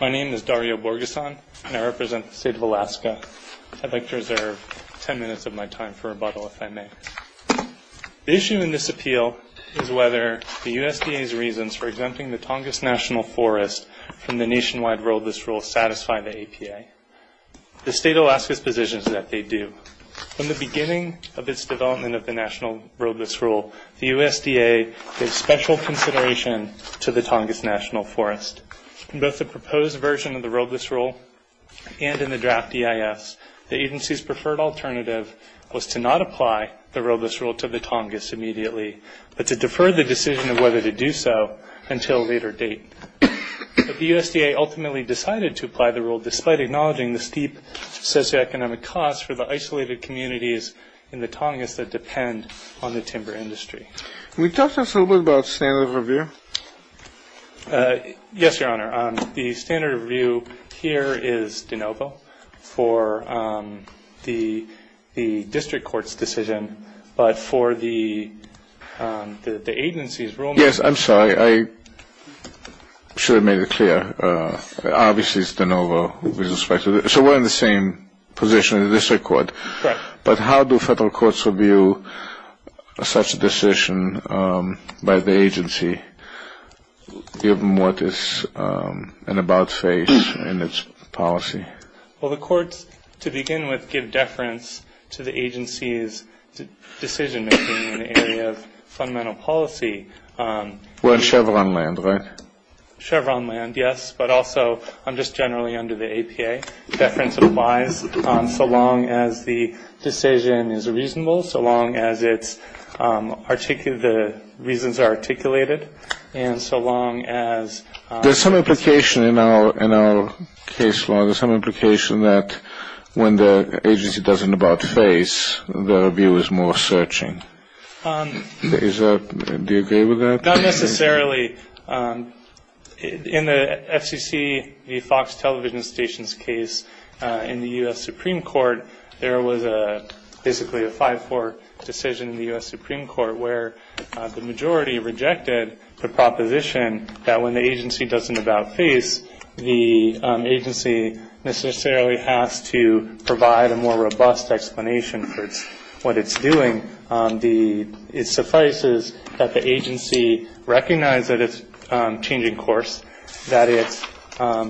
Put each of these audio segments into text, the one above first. My name is Dario Borgeson and I represent the State of Alaska. I'd like to reserve 10 minutes of my time for rebuttal if I may. The issue in this appeal is whether the USDA's reasons for exempting the Tongass National Forest from the Nationwide Roadless Rule satisfy the APA. The State of Alaska's position is that they do. From the beginning of its development of the National Roadless Rule, the USDA gave special consideration to the Tongass National Forest. In both the proposed version of the Roadless Rule and in the draft EIS, the agency's preferred alternative was to not apply the Roadless Rule to the Tongass immediately, but to defer the decision of whether to do so until a later date. The USDA ultimately decided to apply the rule despite acknowledging the steep socioeconomic costs for the isolated communities in the Tongass that depend on the timber industry. Can you talk to us a little bit about standard of review? Yes, Your Honor. The standard of review here is de novo for the district court's decision, but for the agency's rulemaking... Yes, I'm sorry. I should have made it clear. Obviously it's de novo with respect to... So we're in the same position in the district court. Correct. But how do federal courts review such a decision by the agency given what is an about face in its policy? Well, the courts, to begin with, give deference to the agency's decision-making in the area of fundamental policy. We're in Chevron land, right? Chevron land, yes, but also just generally under the APA. Deference applies so long as the decision is reasonable, so long as the reasons are articulated, and so long as... There's some implication in our case law, there's some implication that when the agency does an about face, the review is more searching. Do you agree with that? Not necessarily. In the FCC, the Fox television station's case in the U.S. Supreme Court, there was basically a 5-4 decision in the U.S. Supreme Court where the majority rejected the proposition that when the agency does an about face, the agency necessarily has to provide a more robust explanation for what it's doing. It suffices that the agency recognize that it's changing course, that it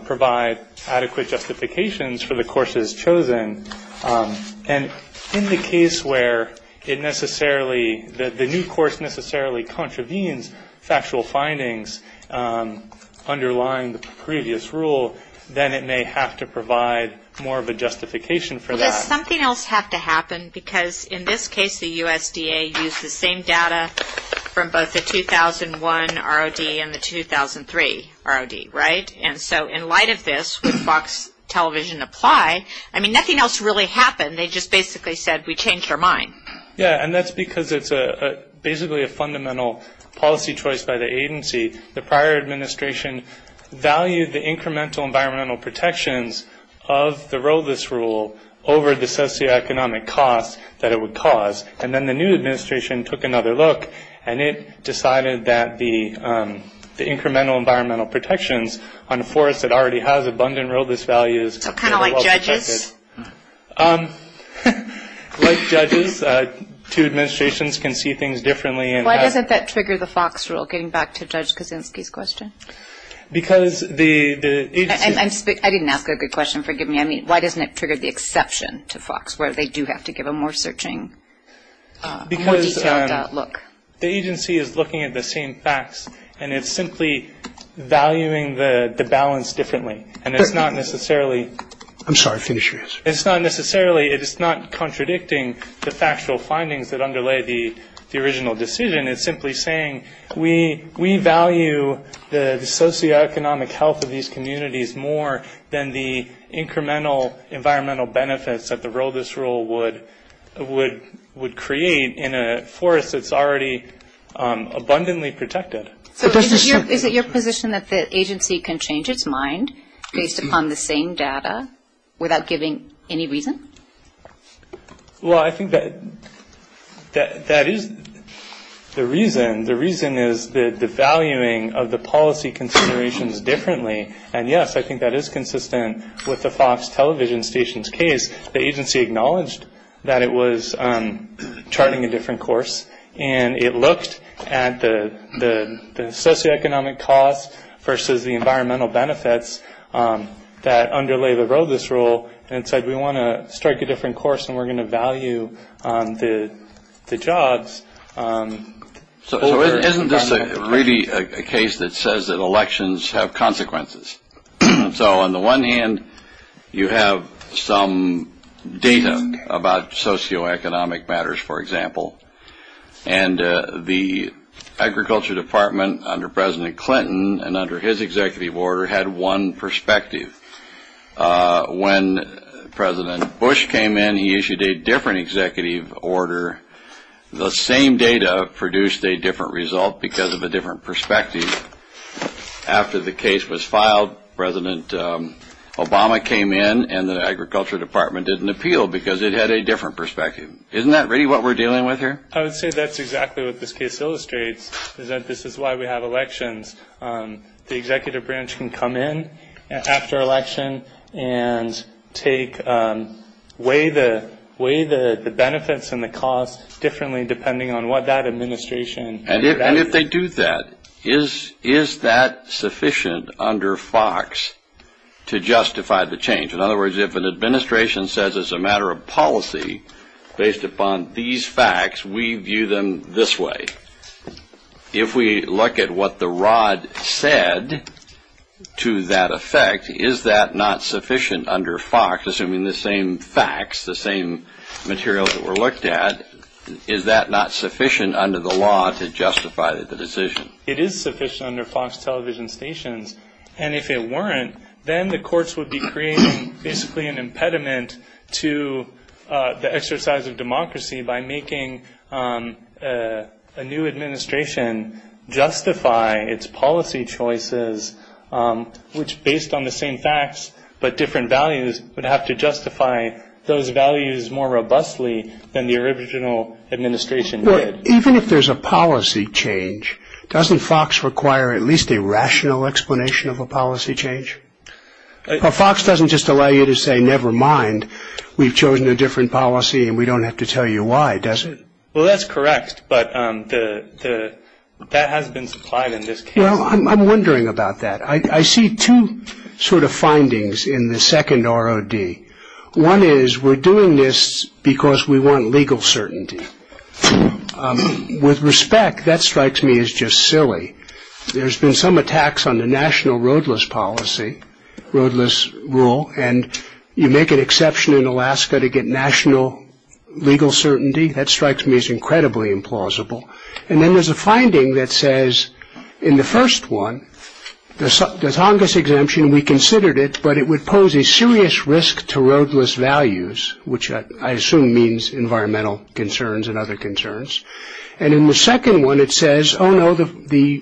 provide adequate justifications for the courses chosen. And in the case where the new course necessarily contravenes factual findings underlying the previous rule, then it may have to provide more of a justification for that. Well, does something else have to happen? Because in this case, the USDA used the same data from both the 2001 ROD and the 2003 ROD, right? And so in light of this, would Fox television apply? I mean, nothing else really happened. They just basically said, we changed our mind. Yeah, and that's because it's basically a fundamental policy choice by the agency. The prior administration valued the incremental environmental protections of the RODIS rule over the socioeconomic costs that it would cause. And then the new administration took another look, and it decided that the incremental environmental protections on a forest that already has abundant RODIS values So kind of like judges? Like judges. Two administrations can see things differently. Why doesn't that trigger the Fox rule, getting back to Judge Kaczynski's question? Because the agency I didn't ask a good question, forgive me. I mean, why doesn't it trigger the exception to Fox, where they do have to give a more searching, more detailed look? Because the agency is looking at the same facts, and it's simply valuing the balance differently. And it's not necessarily I'm sorry, finish your answer. It's not necessarily, it's not contradicting the factual findings that underlay the original decision. It's simply saying we value the socioeconomic health of these communities more than the incremental environmental benefits that the RODIS rule would create in a forest that's already abundantly protected. So is it your position that the agency can change its mind based upon the same data without giving any reason? Well, I think that that is the reason. The reason is the devaluing of the policy considerations differently. And, yes, I think that is consistent with the Fox television station's case. The agency acknowledged that it was charting a different course, and it looked at the socioeconomic costs versus the environmental benefits that underlay the RODIS rule. And it said, we want to strike a different course, and we're going to value the jobs. So isn't this really a case that says that elections have consequences? So on the one hand, you have some data about socioeconomic matters, for example. And the Agriculture Department under President Clinton and under his executive order had one perspective. When President Bush came in, he issued a different executive order. The same data produced a different result because of a different perspective. After the case was filed, President Obama came in, and the Agriculture Department did an appeal because it had a different perspective. Isn't that really what we're dealing with here? I would say that's exactly what this case illustrates, is that this is why we have elections. The executive branch can come in after election and weigh the benefits and the costs differently depending on what that administration values. And if they do that, is that sufficient under Fox to justify the change? In other words, if an administration says it's a matter of policy based upon these facts, we view them this way. If we look at what the Rod said to that effect, is that not sufficient under Fox? Assuming the same facts, the same materials that were looked at, is that not sufficient under the law to justify the decision? It is sufficient under Fox television stations. And if it weren't, then the courts would be creating basically an impediment to the exercise of democracy by making a new administration justify its policy choices, which, based on the same facts but different values, would have to justify those values more robustly than the original administration did. Even if there's a policy change, doesn't Fox require at least a rational explanation of a policy change? Fox doesn't just allow you to say, never mind, we've chosen a different policy and we don't have to tell you why, does it? Well, that's correct, but that hasn't been supplied in this case. I'm wondering about that. I see two sort of findings in the second Rod. One is we're doing this because we want legal certainty. With respect, that strikes me as just silly. There's been some attacks on the national roadless policy, roadless rule, and you make an exception in Alaska to get national legal certainty. That strikes me as incredibly implausible. And then there's a finding that says in the first one, the Tongass exemption, we considered it, but it would pose a serious risk to roadless values, which I assume means environmental concerns and other concerns. And in the second one, it says, oh, no, the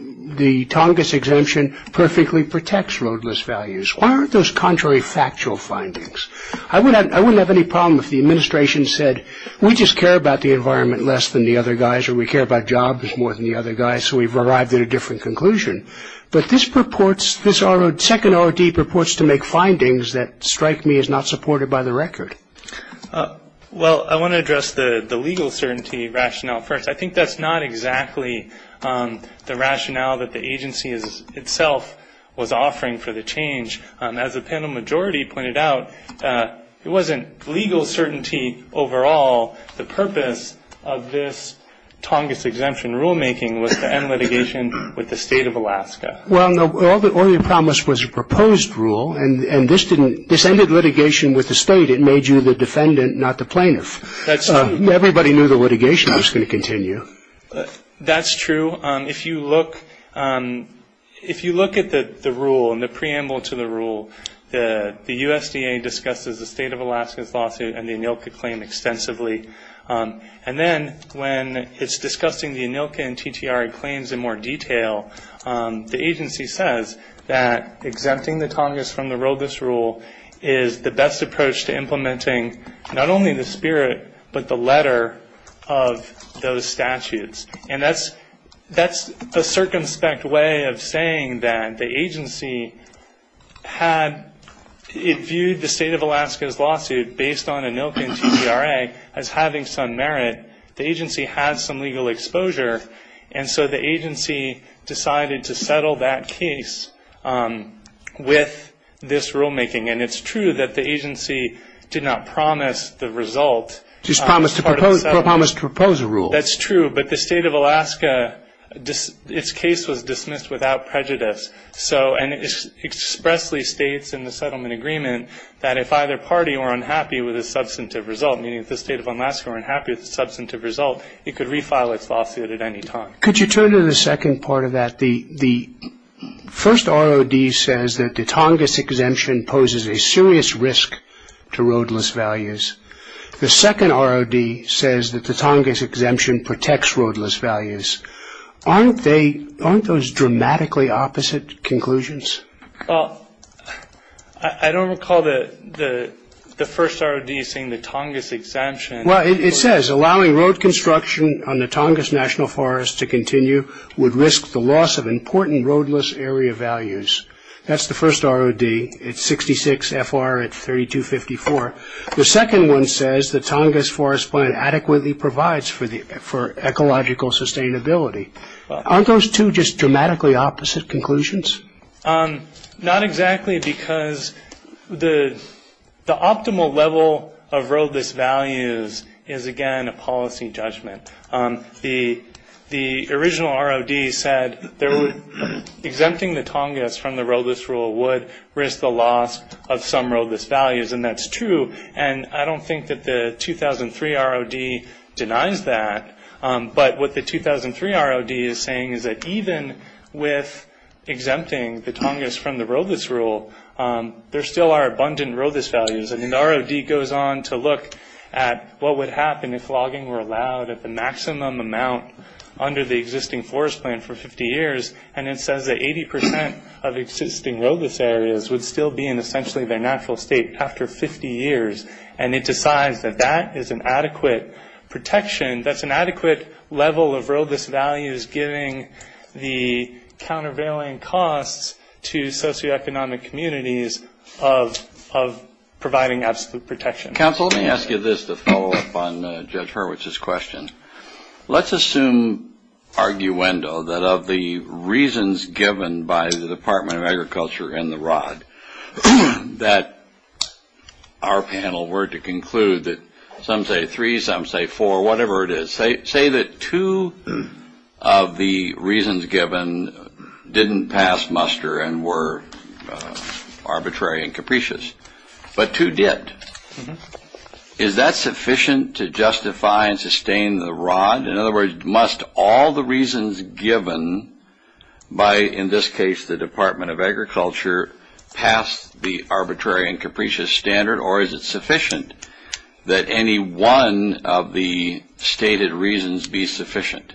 Tongass exemption perfectly protects roadless values. Why aren't those contrary factual findings? I wouldn't have any problem if the administration said we just care about the environment less than the other guys or we care about jobs more than the other guys. So we've arrived at a different conclusion. But this purports, this second R.D. purports to make findings that strike me as not supported by the record. Well, I want to address the legal certainty rationale first. I think that's not exactly the rationale that the agency itself was offering for the change. As the panel majority pointed out, it wasn't legal certainty overall. The purpose of this Tongass exemption rulemaking was to end litigation with the state of Alaska. Well, no, all you promised was a proposed rule, and this ended litigation with the state. It made you the defendant, not the plaintiff. That's true. Everybody knew the litigation was going to continue. That's true. If you look at the rule and the preamble to the rule, the USDA discusses the state of Alaska's lawsuit and the ANILCA claim extensively. And then when it's discussing the ANILCA and TTRA claims in more detail, the agency says that exempting the Tongass from the roadless rule is the best approach to implementing not only the spirit but the letter of those statutes. And that's the circumspect way of saying that the agency had viewed the state of Alaska's lawsuit based on ANILCA and TTRA as having some merit, the agency has some legal exposure, and so the agency decided to settle that case with this rulemaking. And it's true that the agency did not promise the result. Just promised to propose a rule. That's true, but the state of Alaska, its case was dismissed without prejudice. And it expressly states in the settlement agreement that if either party were unhappy with the substantive result, meaning if the state of Alaska were unhappy with the substantive result, it could refile its lawsuit at any time. Could you turn to the second part of that? The first ROD says that the Tongass exemption poses a serious risk to roadless values. The second ROD says that the Tongass exemption protects roadless values. Aren't those dramatically opposite conclusions? Well, I don't recall the first ROD saying the Tongass exemption. Well, it says allowing road construction on the Tongass National Forest to continue would risk the loss of important roadless area values. That's the first ROD. It's 66 FR at 3254. The second one says the Tongass Forest Plan adequately provides for ecological sustainability. Aren't those two just dramatically opposite conclusions? Not exactly, because the optimal level of roadless values is, again, a policy judgment. The original ROD said exempting the Tongass from the roadless rule would risk the loss of some roadless values. And that's true. And I don't think that the 2003 ROD denies that. But what the 2003 ROD is saying is that even with exempting the Tongass from the roadless rule, there still are abundant roadless values. And the ROD goes on to look at what would happen if logging were allowed at the maximum amount under the existing forest plan for 50 years. And it says that 80 percent of existing roadless areas would still be in essentially their natural state after 50 years. And it decides that that is an adequate protection, that's an adequate level of roadless values, giving the countervailing costs to socioeconomic communities of providing absolute protection. Counsel, let me ask you this to follow up on Judge Hurwitz's question. Let's assume, arguendo, that of the reasons given by the Department of Agriculture and the ROD, that our panel were to conclude that some say three, some say four, whatever it is, say that two of the reasons given didn't pass muster and were arbitrary and capricious, but two did. Is that sufficient to justify and sustain the ROD? In other words, must all the reasons given by, in this case, the Department of Agriculture, pass the arbitrary and capricious standard, or is it sufficient that any one of the stated reasons be sufficient?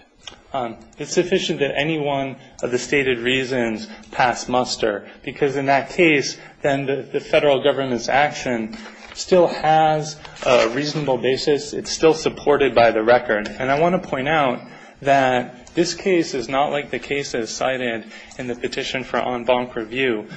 It's sufficient that any one of the stated reasons pass muster, because in that case, then the federal government's action still has a reasonable basis. It's still supported by the record. And I want to point out that this case is not like the cases cited in the petition for en banc review.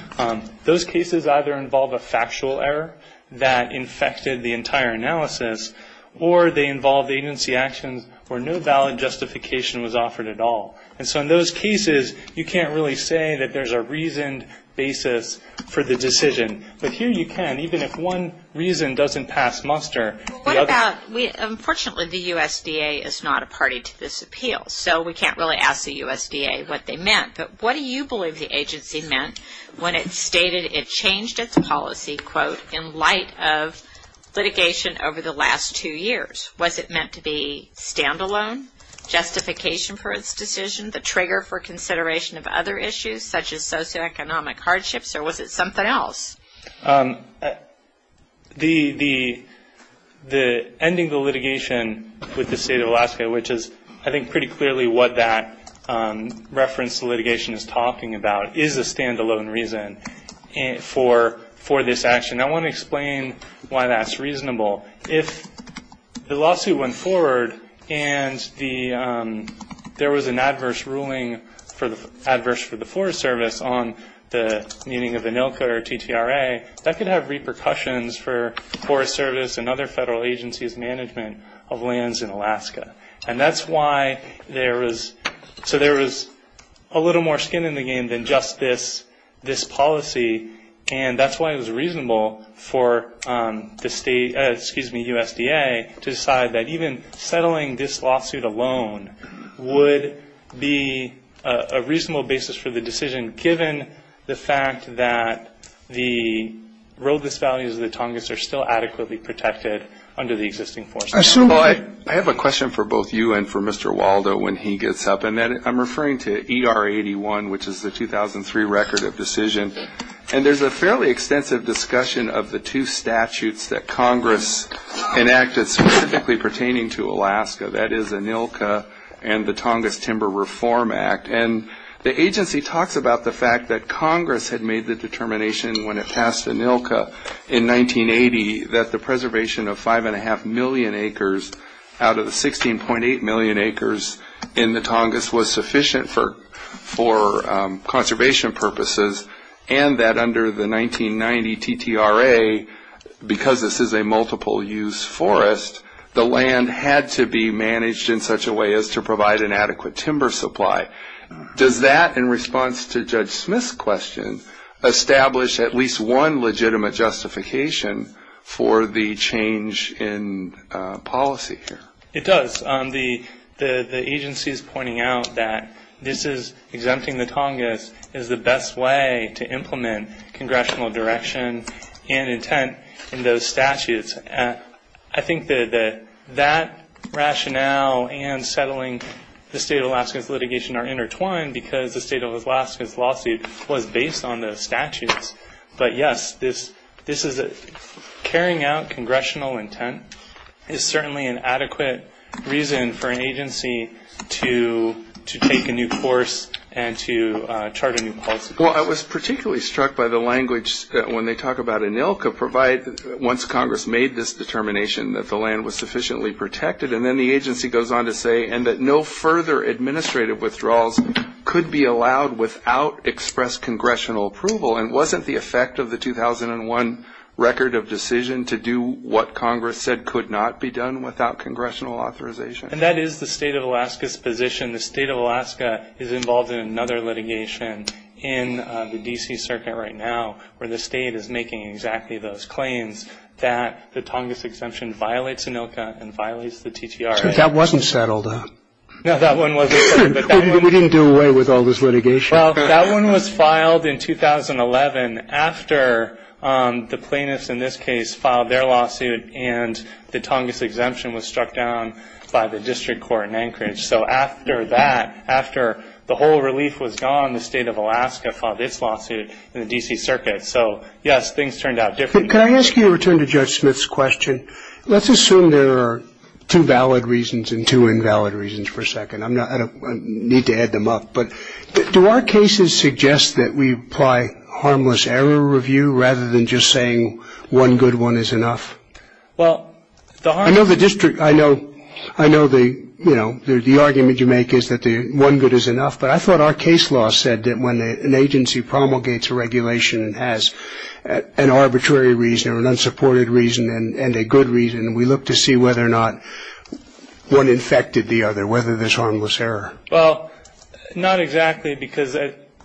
Those cases either involve a factual error that infected the entire analysis, or they involve agency actions where no valid justification was offered at all. And so in those cases, you can't really say that there's a reasoned basis for the decision. But here you can, even if one reason doesn't pass muster. What about, unfortunately, the USDA is not a party to this appeal, so we can't really ask the USDA what they meant. But what do you believe the agency meant when it stated it changed its policy, quote, in light of litigation over the last two years? Was it meant to be stand-alone justification for its decision, the trigger for consideration of other issues such as socioeconomic hardships, or was it something else? The ending the litigation with the state of Alaska, which is I think pretty clearly what that reference to litigation is talking about, is a stand-alone reason for this action. I want to explain why that's reasonable. If the lawsuit went forward and there was an adverse ruling, adverse for the Forest Service on the meeting of ANILCA or TTRA, that could have repercussions for Forest Service and other federal agencies' management of lands in Alaska. And that's why there was, so there was a little more skin in the game than just this policy, and that's why it was reasonable for the state, excuse me, USDA, to decide that even settling this lawsuit alone would be a reasonable basis for the decision, given the fact that the roadless values of the Tongass are still adequately protected under the existing Forest Service. I have a question for both you and for Mr. Waldo when he gets up, and I'm referring to ER 81, which is the 2003 record of decision. And there's a fairly extensive discussion of the two statutes that Congress enacted specifically pertaining to Alaska, that is ANILCA and the Tongass Timber Reform Act. And the agency talks about the fact that Congress had made the determination when it passed ANILCA in 1980 that the preservation of 5.5 million acres out of the 16.8 million acres in the Tongass was sufficient for conservation purposes, and that under the 1990 TTRA, because this is a multiple-use forest, the land had to be managed in such a way as to provide an adequate timber supply. Does that, in response to Judge Smith's question, establish at least one legitimate justification for the change in policy here? It does. The agency is pointing out that this is exempting the Tongass is the best way to implement congressional direction and intent in those statutes. I think that that rationale and settling the state of Alaska's litigation are intertwined because the state of Alaska's lawsuit was based on the statutes. But, yes, carrying out congressional intent is certainly an adequate reason for an agency to take a new course and to chart a new policy. Well, I was particularly struck by the language when they talk about ANILCA, once Congress made this determination that the land was sufficiently protected. And then the agency goes on to say, and that no further administrative withdrawals could be allowed without express congressional approval. And wasn't the effect of the 2001 record of decision to do what Congress said could not be done without congressional authorization? And that is the state of Alaska's position. The state of Alaska is involved in another litigation in the D.C. circuit right now where the state is making exactly those claims that the Tongass exemption violates ANILCA and violates the TTRA. That wasn't settled. No, that one wasn't. We didn't do away with all this litigation. Well, that one was filed in 2011 after the plaintiffs in this case filed their lawsuit and the Tongass exemption was struck down by the district court in Anchorage. So after that, after the whole relief was gone, the state of Alaska filed its lawsuit in the D.C. circuit. So, yes, things turned out differently. Can I ask you to return to Judge Smith's question? Let's assume there are two valid reasons and two invalid reasons for a second. I need to add them up. But do our cases suggest that we apply harmless error review rather than just saying one good one is enough? I know the argument you make is that one good is enough, but I thought our case law said that when an agency promulgates a regulation and has an arbitrary reason or an unsupported reason and a good reason, we look to see whether or not one infected the other, whether there's harmless error. Well, not exactly because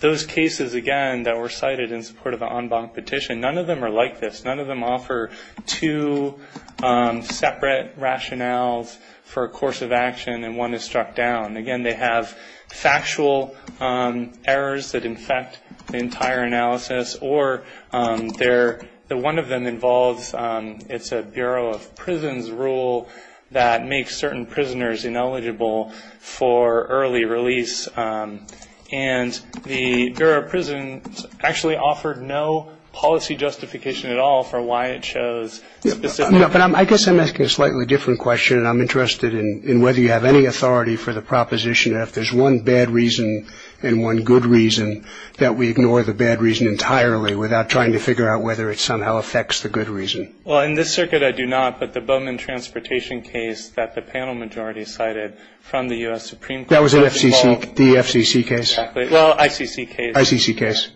those cases, again, that were cited in support of the en banc petition, none of them are like this. None of them offer two separate rationales for a course of action and one is struck down. Again, they have factual errors that infect the entire analysis, or one of them involves, it's a Bureau of Prisons rule that makes certain prisoners ineligible for early release. And the Bureau of Prisons actually offered no policy justification at all for why it chose specific. I guess I'm asking a slightly different question. I'm interested in whether you have any authority for the proposition that if there's one bad reason and one good reason, that we ignore the bad reason entirely without trying to figure out whether it somehow affects the good reason. Well, in this circuit I do not, but the Bowman transportation case that the panel majority cited from the U.S. Supreme Court. That was the FCC case? Well, ICC case.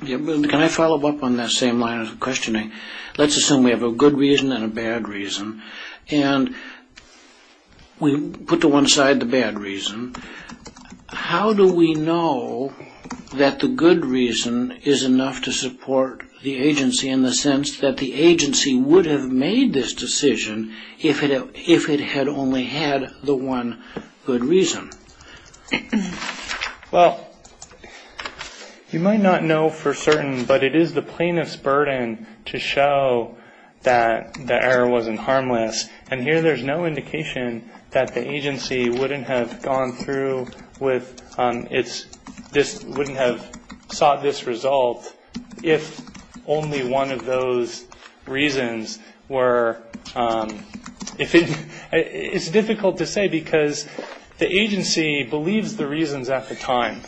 Can I follow up on that same line of questioning? Let's assume we have a good reason and a bad reason. And we put to one side the bad reason. How do we know that the good reason is enough to support the agency in the sense that the agency would have made this decision if it had only had the one good reason? Well, you might not know for certain, but it is the plaintiff's burden to show that the error wasn't harmless. And here there's no indication that the agency wouldn't have gone through with, wouldn't have sought this result if only one of those reasons were. It's difficult to say because the agency believes the reasons at the time.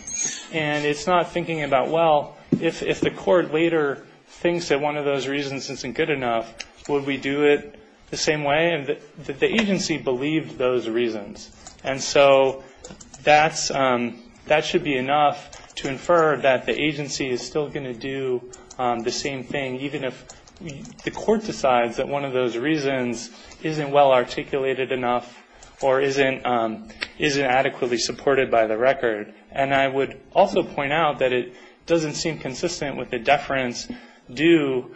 And it's not thinking about, well, if the court later thinks that one of those reasons isn't good enough, would we do it the same way? The agency believed those reasons. And so that should be enough to infer that the agency is still going to do the same thing, even if the court decides that one of those reasons isn't well articulated enough or isn't adequately supported by the record. And I would also point out that it doesn't seem consistent with the deference due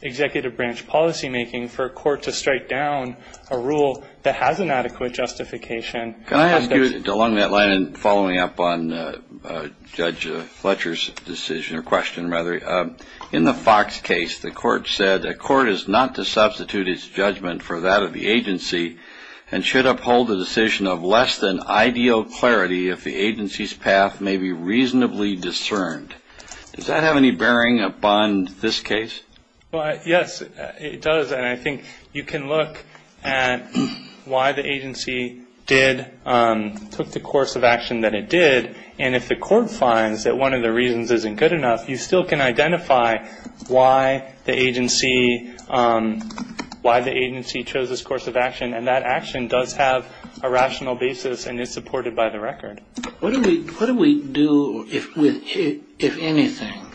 executive branch policymaking for a court to strike down a rule that has inadequate justification. Can I ask you, along that line and following up on Judge Fletcher's decision or question, rather, in the Fox case the court said the court is not to substitute its judgment for that of the agency and should uphold a decision of less than ideal clarity if the agency's path may be reasonably discerned. Does that have any bearing upon this case? Well, yes, it does. And I think you can look at why the agency did, took the course of action that it did. And if the court finds that one of the reasons isn't good enough, you still can identify why the agency chose this course of action. And that action does have a rational basis and is supported by the record. What do we do, if anything,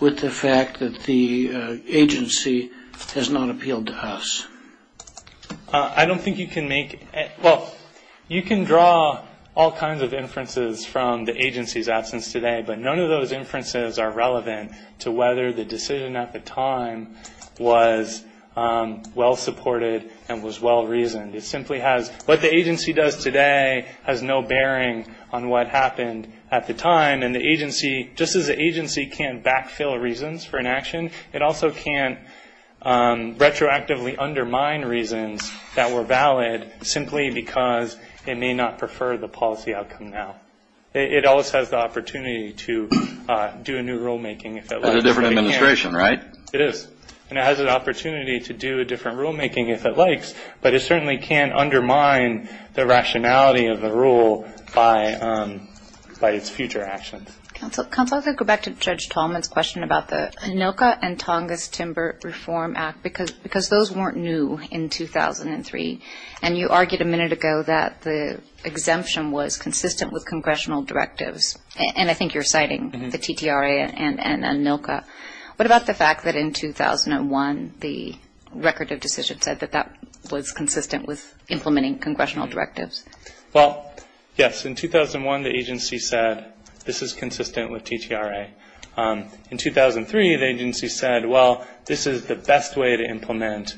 with the fact that the agency has not appealed to us? I don't think you can make it. Well, you can draw all kinds of inferences from the agency's absence today, but none of those inferences are relevant to whether the decision at the time was well supported and was well reasoned. It simply has what the agency does today has no bearing on what happened at the time. And the agency, just as the agency can't backfill reasons for inaction, it also can't retroactively undermine reasons that were valid simply because it may not prefer the policy outcome now. It always has the opportunity to do a new rulemaking if it likes. That's a different administration, right? It is. And it has an opportunity to do a different rulemaking if it likes. But it certainly can't undermine the rationality of the rule by its future actions. Counsel, I'd like to go back to Judge Tallman's question about the ANILCA and Tongass Timber Reform Act, because those weren't new in 2003. And you argued a minute ago that the exemption was consistent with congressional directives. And I think you're citing the TTRA and ANILCA. What about the fact that in 2001, the record of decision said that that was consistent with implementing congressional directives? Well, yes. In 2001, the agency said this is consistent with TTRA. In 2003, the agency said, well, this is the best way to implement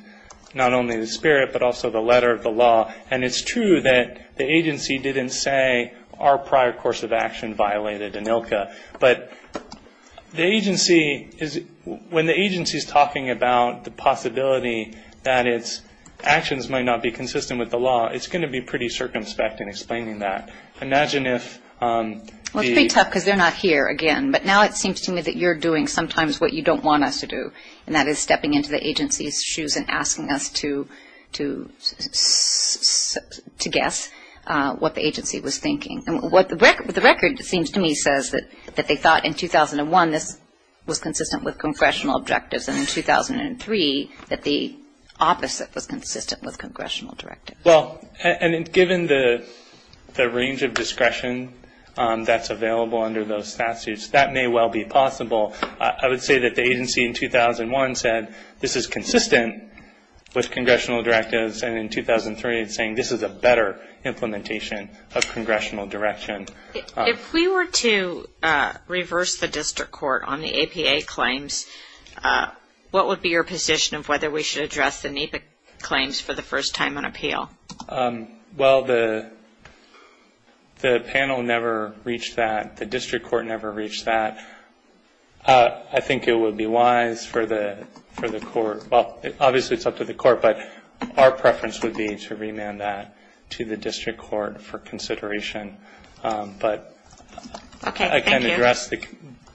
not only the spirit but also the letter of the law. And it's true that the agency didn't say our prior course of action violated ANILCA. But the agency is ‑‑ when the agency is talking about the possibility that its actions might not be consistent with the law, it's going to be pretty circumspect in explaining that. Imagine if the ‑‑ Well, it's pretty tough because they're not here again. But now it seems to me that you're doing sometimes what you don't want us to do, and that is stepping into the agency's shoes and asking us to guess what the agency was thinking. The record, it seems to me, says that they thought in 2001 this was consistent with congressional objectives, and in 2003 that the opposite was consistent with congressional directives. Well, and given the range of discretion that's available under those statutes, that may well be possible. I would say that the agency in 2001 said this is consistent with congressional directives, and in 2003 it's saying this is a better implementation of congressional direction. If we were to reverse the district court on the APA claims, what would be your position of whether we should address the NEPA claims for the first time on appeal? Well, the panel never reached that. The district court never reached that. I think it would be wise for the court ‑‑ well, obviously it's up to the court, but our preference would be to remand that to the district court for consideration. But I can address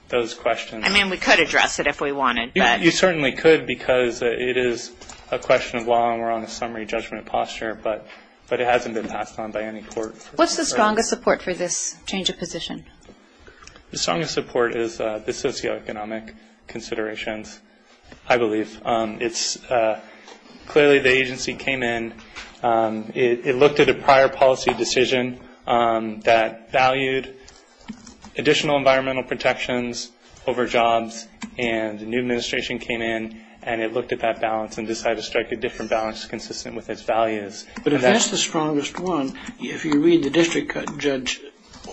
those questions. I mean, we could address it if we wanted. You certainly could because it is a question of law and we're on a summary judgment posture, but it hasn't been passed on by any court. What's the strongest support for this change of position? The strongest support is the socioeconomic considerations, I believe. Clearly the agency came in, it looked at a prior policy decision that valued additional environmental protections over jobs, and a new administration came in and it looked at that balance and decided to strike a different balance consistent with its values. But if that's the strongest one, if you read the district judge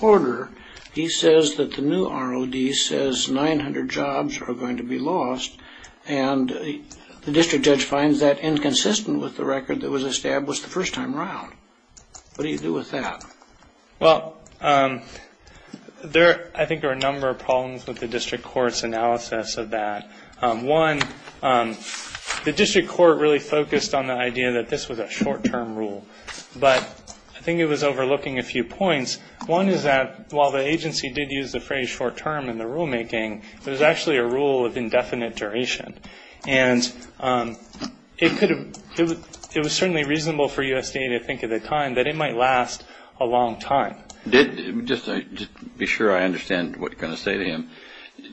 order, he says that the new ROD says 900 jobs are going to be lost, and the district judge finds that inconsistent with the record that was established the first time around. What do you do with that? Well, I think there are a number of problems with the district court's analysis of that. One, the district court really focused on the idea that this was a short‑term rule, but I think it was overlooking a few points. One is that while the agency did use the phrase short term in the rulemaking, there's actually a rule of indefinite duration, and it was certainly reasonable for USDA to think at the time that it might last a long time. Just to be sure I understand what you're going to say to him,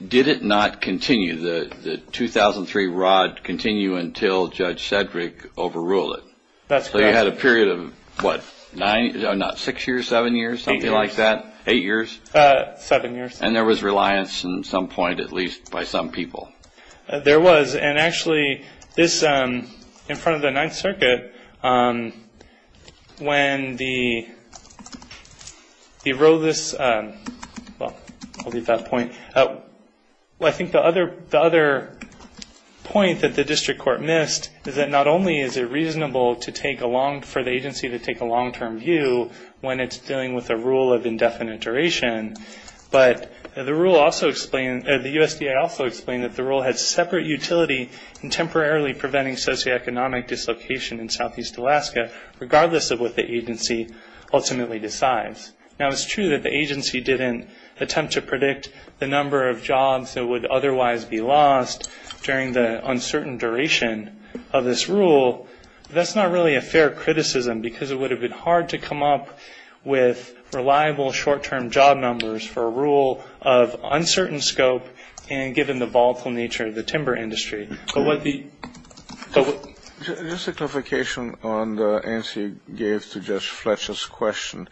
did it not continue, the 2003 ROD continue until Judge Sedgwick overruled it? That's correct. So you had a period of what, not six years, seven years, something like that? Eight years. Eight years? Seven years. And there was reliance at some point, at least, by some people. There was, and actually, in front of the Ninth Circuit, when the RODIS, well, I'll leave that point. I think the other point that the district court missed is that not only is it reasonable for the agency to take a long‑term view when it's dealing with a rule of indefinite duration, but the rule also explained, the USDA also explained that the rule had separate utility in temporarily preventing socioeconomic dislocation in Southeast Alaska, regardless of what the agency ultimately decides. Now, it's true that the agency didn't attempt to predict the number of jobs that would otherwise be lost during the uncertain duration of this rule, but that's not really a fair criticism, because it would have been hard to come up with reliable short‑term job numbers for a rule of uncertain scope, and given the volatile nature of the timber industry. Just a clarification on the answer you gave to Judge Fletcher's question.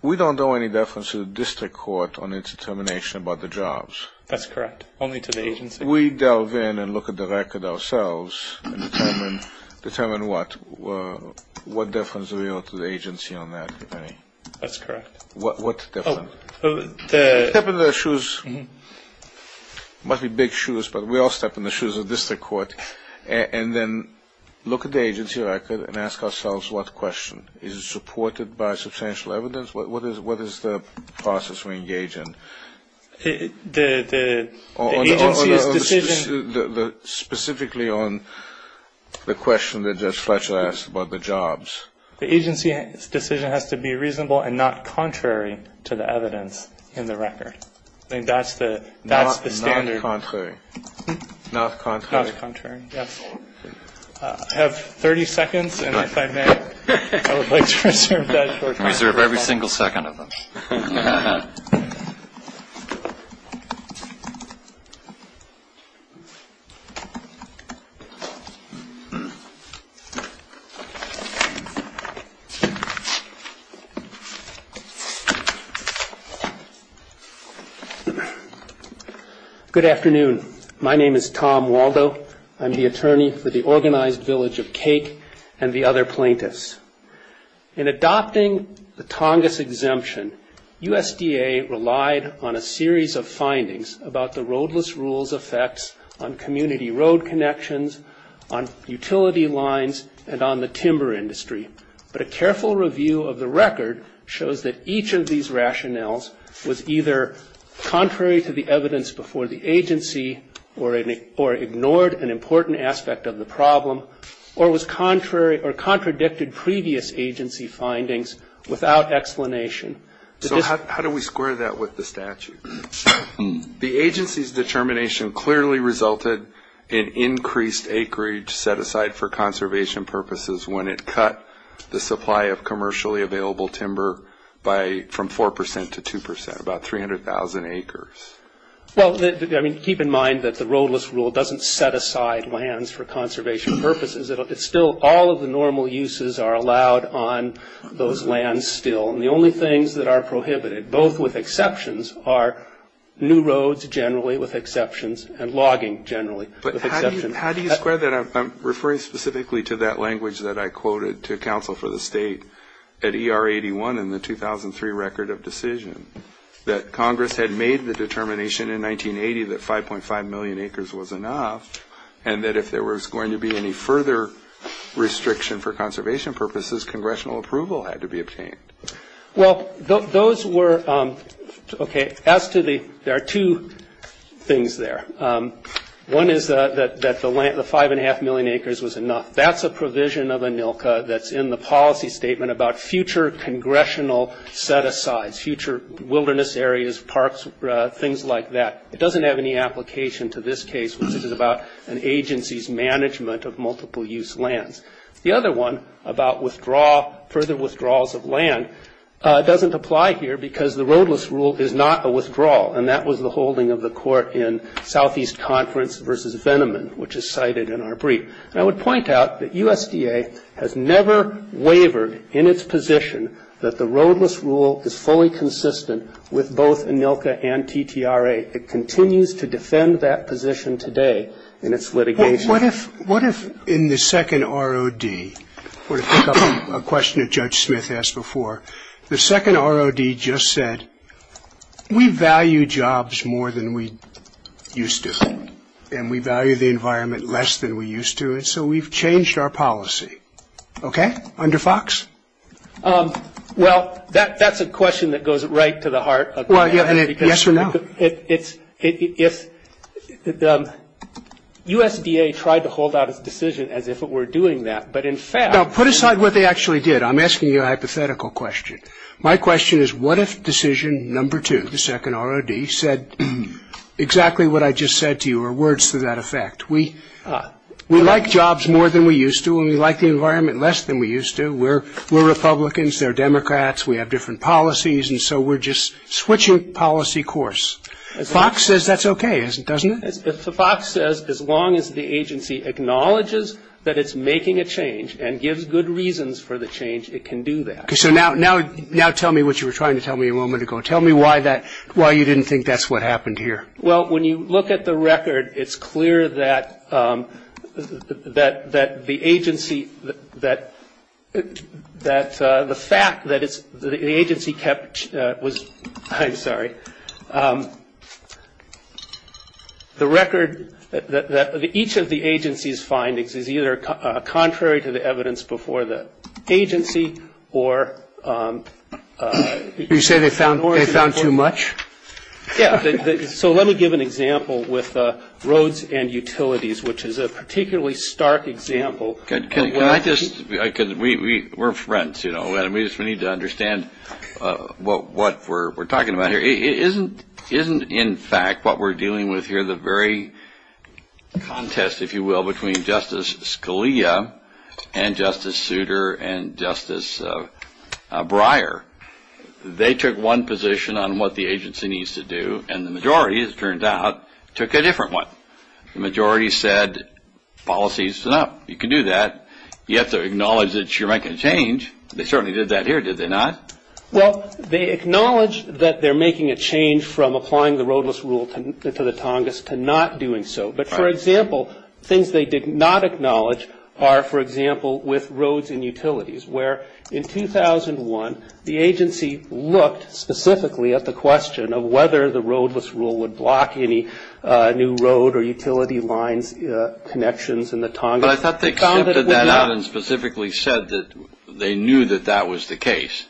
We don't owe any deference to the district court on its determination about the jobs. That's correct, only to the agency. If we delve in and look at the record ourselves and determine what, what deference do we owe to the agency on that? That's correct. What deference? Step in their shoes. It must be big shoes, but we all step in the shoes of the district court, and then look at the agency record and ask ourselves what question? Is it supported by substantial evidence? What is the process we engage in? The agency's decision. Specifically on the question that Judge Fletcher asked about the jobs. The agency's decision has to be reasonable and not contrary to the evidence in the record. That's the standard. Not contrary. Not contrary. Not contrary, yes. I have 30 seconds, and if I may, I would like to reserve that short time. Thank you. Good afternoon. My name is Tom Waldo. I'm the attorney for the organized village of Cake and the other plaintiffs. In adopting the Tongass exemption, USDA relied on a series of findings about the roadless rules effects on community road connections, on utility lines, and on the timber industry. But a careful review of the record shows that each of these rationales was either contrary to the evidence before the agency or ignored an important aspect of the problem, or was contrary or contradicted previous agency findings without explanation. So how do we square that with the statute? The agency's determination clearly resulted in increased acreage set aside for conservation purposes when it cut the supply of commercially available timber from 4% to 2%, about 300,000 acres. Well, I mean, keep in mind that the roadless rule doesn't set aside lands for conservation purposes. It's still all of the normal uses are allowed on those lands still. And the only things that are prohibited, both with exceptions, are new roads generally with exceptions and logging generally with exceptions. But how do you square that? I'm referring specifically to that language that I quoted to counsel for the state at ER81 in the 2003 record of decision, that Congress had made the determination in 1980 that 5.5 million acres was enough, and that if there was going to be any further restriction for conservation purposes, congressional approval had to be obtained. Well, those were, okay, as to the, there are two things there. One is that the 5.5 million acres was enough. That's a provision of ANILCA that's in the policy statement about future congressional set-asides, future wilderness areas, parks, things like that. It doesn't have any application to this case, which is about an agency's management of multiple-use lands. The other one about withdraw, further withdrawals of land doesn't apply here because the roadless rule is not a withdrawal, and that was the holding of the court in Southeast Conference v. Veneman, which is cited in our brief. And I would point out that USDA has never wavered in its position that the roadless rule is fully consistent with both ANILCA and TTRA. It continues to defend that position today in its litigation. What if in the second ROD, a question that Judge Smith asked before, the second ROD just said, we value jobs more than we used to, and we value the environment less than we used to, and so we've changed our policy. Okay? Under Fox? Well, that's a question that goes right to the heart of it. Yes or no? It's, if the USDA tried to hold out its decision as if it were doing that, but in fact. Now, put aside what they actually did. I'm asking you a hypothetical question. My question is what if decision number two, the second ROD, said exactly what I just said to you or words to that effect. We like jobs more than we used to, and we like the environment less than we used to. We're Republicans. They're Democrats. We have different policies, and so we're just switching policy course. Fox says that's okay, doesn't it? Fox says as long as the agency acknowledges that it's making a change and gives good reasons for the change, it can do that. Okay, so now tell me what you were trying to tell me a moment ago. Tell me why you didn't think that's what happened here. Well, when you look at the record, it's clear that the agency, that the fact that the agency kept, I'm sorry, the record that each of the agency's findings is either contrary to the evidence before the agency or. Did you say they found too much? Yeah. So let me give an example with roads and utilities, which is a particularly stark example. Can I just, because we're friends, you know, and we need to understand what we're talking about here. It isn't in fact what we're dealing with here, the very contest, if you will, between Justice Scalia and Justice Souter and Justice Breyer. They took one position on what the agency needs to do, and the majority, as it turned out, took a different one. The majority said policy is enough. You can do that. You have to acknowledge that you're making a change. They certainly did that here, did they not? Well, they acknowledged that they're making a change from applying the roadless rule to the Tongass to not doing so. But, for example, things they did not acknowledge are, for example, with roads and utilities, where in 2001 the agency looked specifically at the question of whether the roadless rule would block any new road or utility lines, connections in the Tongass. But I thought they extended that out and specifically said that they knew that that was the case.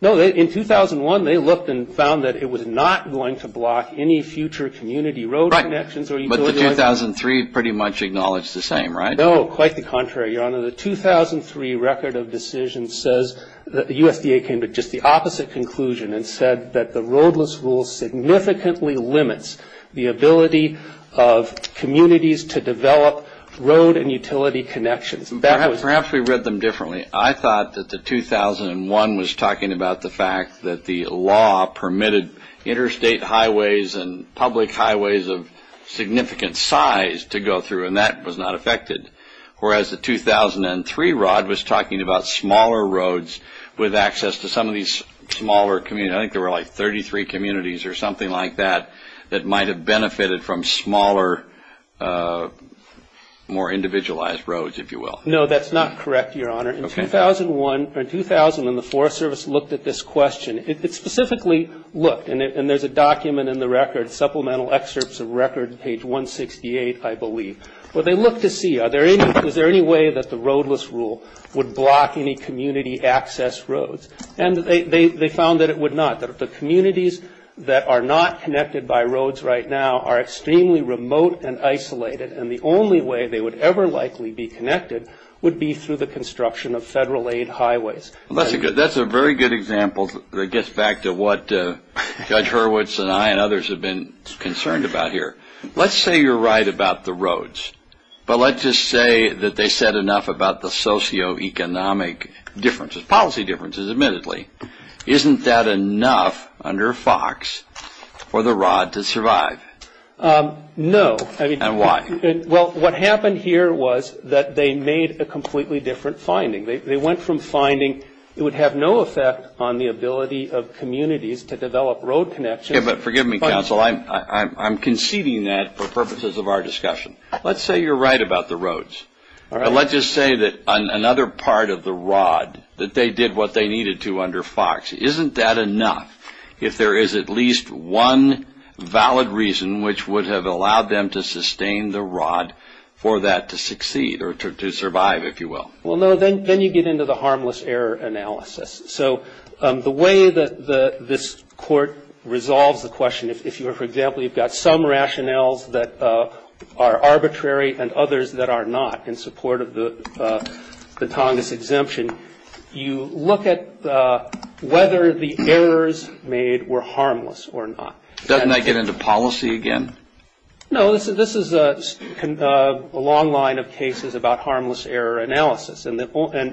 No, in 2001 they looked and found that it was not going to block any future community road connections or utility lines. Right, but the 2003 pretty much acknowledged the same, right? No, quite the contrary, Your Honor. The 2003 record of decisions says that the USDA came to just the opposite conclusion and said that the roadless rule significantly limits the ability of communities to develop road and utility connections. Perhaps we read them differently. I thought that the 2001 was talking about the fact that the law permitted interstate highways and public highways of significant size to go through, and that was not affected, whereas the 2003 rod was talking about smaller roads with access to some of these smaller communities. I think there were like 33 communities or something like that that might have benefited from smaller, more individualized roads, if you will. No, that's not correct, Your Honor. In 2001, or 2000, when the Forest Service looked at this question, it specifically looked, and there's a document in the record, supplemental excerpts of record, page 168, I believe, where they looked to see, is there any way that the roadless rule would block any community access roads? And they found that it would not, that the communities that are not connected by roads right now are extremely remote and isolated, and the only way they would ever likely be connected would be through the construction of federal-aid highways. That's a very good example that gets back to what Judge Hurwitz and I and others have been concerned about here. Let's say you're right about the roads, but let's just say that they said enough about the socioeconomic differences, policy differences, admittedly. Isn't that enough under Fox for the rod to survive? No. And why? Well, what happened here was that they made a completely different finding. They went from finding it would have no effect on the ability of communities to develop road connections. Forgive me, counsel. I'm conceding that for purposes of our discussion. Let's say you're right about the roads. All right. But let's just say that another part of the rod, that they did what they needed to under Fox, isn't that enough if there is at least one valid reason which would have allowed them to sustain the rod for that to succeed or to survive, if you will? Well, no. Then you get into the harmless error analysis. So the way that this Court resolves the question, if, for example, you've got some rationales that are arbitrary and others that are not in support of the Tongass exemption, you look at whether the errors made were harmless or not. Doesn't that get into policy again? No. This is a long line of cases about harmless error analysis. And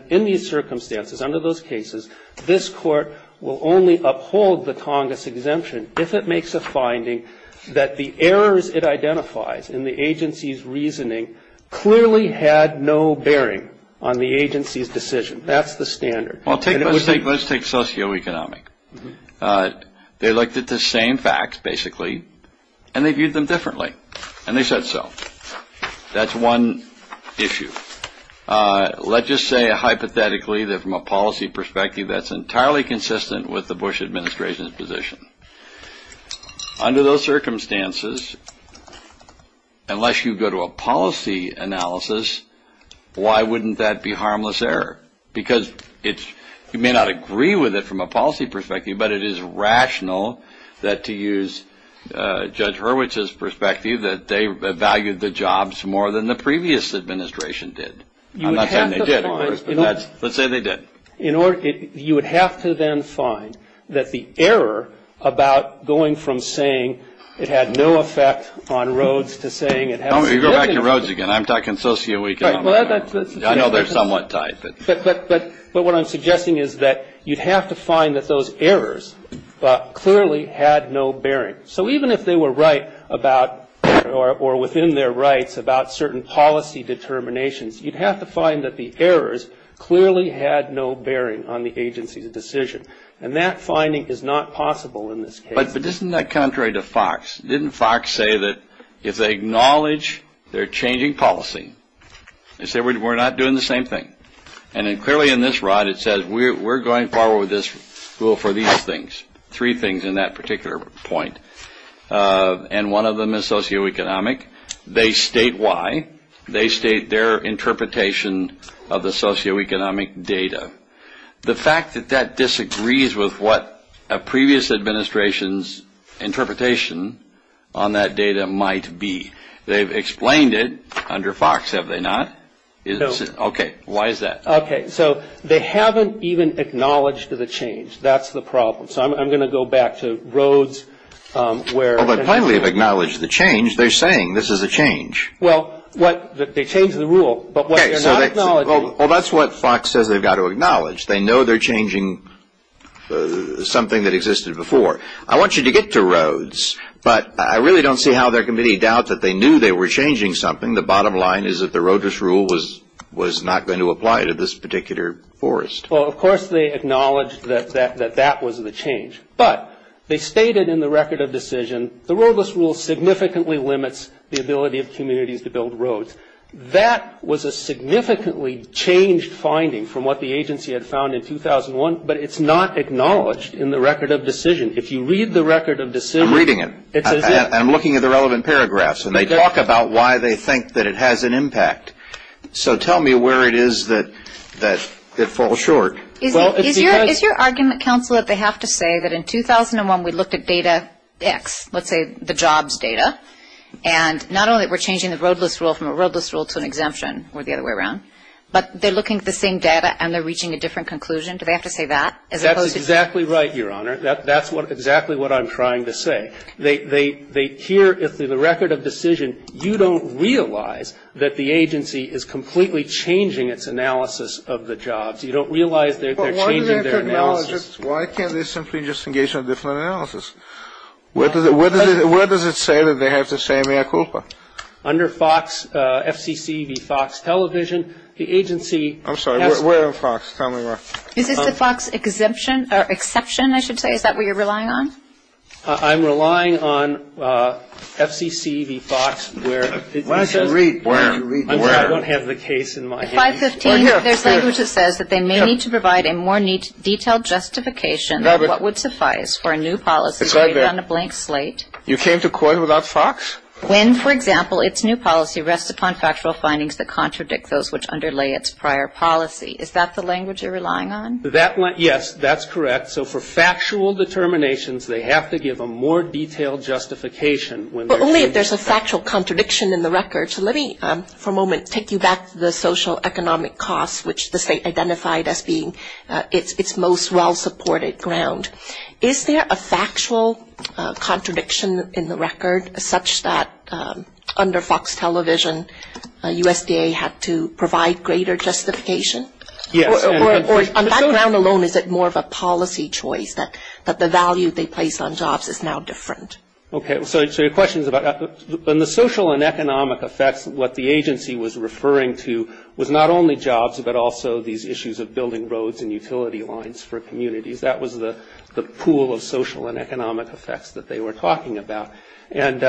in these circumstances, under those cases, this Court will only uphold the Tongass exemption if it makes a finding that the errors it identifies in the agency's reasoning clearly had no bearing on the agency's decision. That's the standard. Let's take socioeconomic. They looked at the same facts, basically, and they viewed them differently. And they said so. That's one issue. Let's just say, hypothetically, that from a policy perspective, that's entirely consistent with the Bush administration's position. Under those circumstances, unless you go to a policy analysis, why wouldn't that be harmless error? Because you may not agree with it from a policy perspective, but it is rational that to use Judge Hurwitz's perspective, that they valued the jobs more than the previous administration did. I'm not saying they didn't. Let's say they did. You would have to then find that the error about going from saying it had no effect on Rhodes to saying it has to do with the agency. Go back to Rhodes again. I'm talking socioeconomic. I know they're somewhat tied. But what I'm suggesting is that you'd have to find that those errors clearly had no bearing. So even if they were right about or within their rights about certain policy determinations, you'd have to find that the errors clearly had no bearing on the agency's decision. And that finding is not possible in this case. But isn't that contrary to Fox? Didn't Fox say that if they acknowledge they're changing policy, they say we're not doing the same thing. And clearly in this rod it says we're going forward with this rule for these things, three things in that particular point. And one of them is socioeconomic. They state why. They state their interpretation of the socioeconomic data. The fact that that disagrees with what a previous administration's interpretation on that data might be. They've explained it under Fox, have they not? No. Okay. Why is that? Okay. So they haven't even acknowledged the change. That's the problem. So I'm going to go back to Rhodes. But finally they've acknowledged the change. They're saying this is a change. Well, they changed the rule. Well, that's what Fox says they've got to acknowledge. They know they're changing something that existed before. I want you to get to Rhodes. But I really don't see how there can be any doubt that they knew they were changing something. The bottom line is that the roadless rule was not going to apply to this particular forest. Well, of course they acknowledged that that was the change. But they stated in the record of decision the roadless rule significantly limits the ability of communities to build roads. That was a significantly changed finding from what the agency had found in 2001, but it's not acknowledged in the record of decision. If you read the record of decision – I'm reading it. And I'm looking at the relevant paragraphs. And they talk about why they think that it has an impact. So tell me where it is that it falls short. Is your argument, counsel, that they have to say that in 2001 we looked at data X, let's say the jobs data, and not only were we changing the roadless rule from a roadless rule to an exemption or the other way around, but they're looking at the same data and they're reaching a different conclusion? Do they have to say that? That's exactly right, Your Honor. That's exactly what I'm trying to say. Here, in the record of decision, you don't realize that the agency is completely changing its analysis of the jobs. You don't realize that they're changing their analysis. Why can't they simply just engage in a different analysis? Where does it say that they have to say mea culpa? Under FOX, FCC v. FOX Television, the agency – I'm sorry. Where in FOX? Tell me where. Is this the FOX exemption or exception, I should say? Is that what you're relying on? I'm relying on FCC v. FOX where it says – Why don't you read? I'm sorry. I don't have the case in my hand. In 515, there's language that says that they may need to provide a more neat, detailed justification of what would suffice for a new policy created on a blank slate. You came to court without FOX? When, for example, its new policy rests upon factual findings that contradict those which underlay its prior policy. Is that the language you're relying on? Yes, that's correct. So for factual determinations, they have to give a more detailed justification. But only if there's a factual contradiction in the record. Thank you, Judge. Let me, for a moment, take you back to the social economic costs, which the state identified as being its most well-supported ground. Is there a factual contradiction in the record such that under FOX Television, USDA had to provide greater justification? Yes. Or on that ground alone, is it more of a policy choice, that the value they place on jobs is now different? Okay. So your question is about the social and economic effects, what the agency was referring to was not only jobs, but also these issues of building roads and utility lines for communities. That was the pool of social and economic effects that they were talking about. And,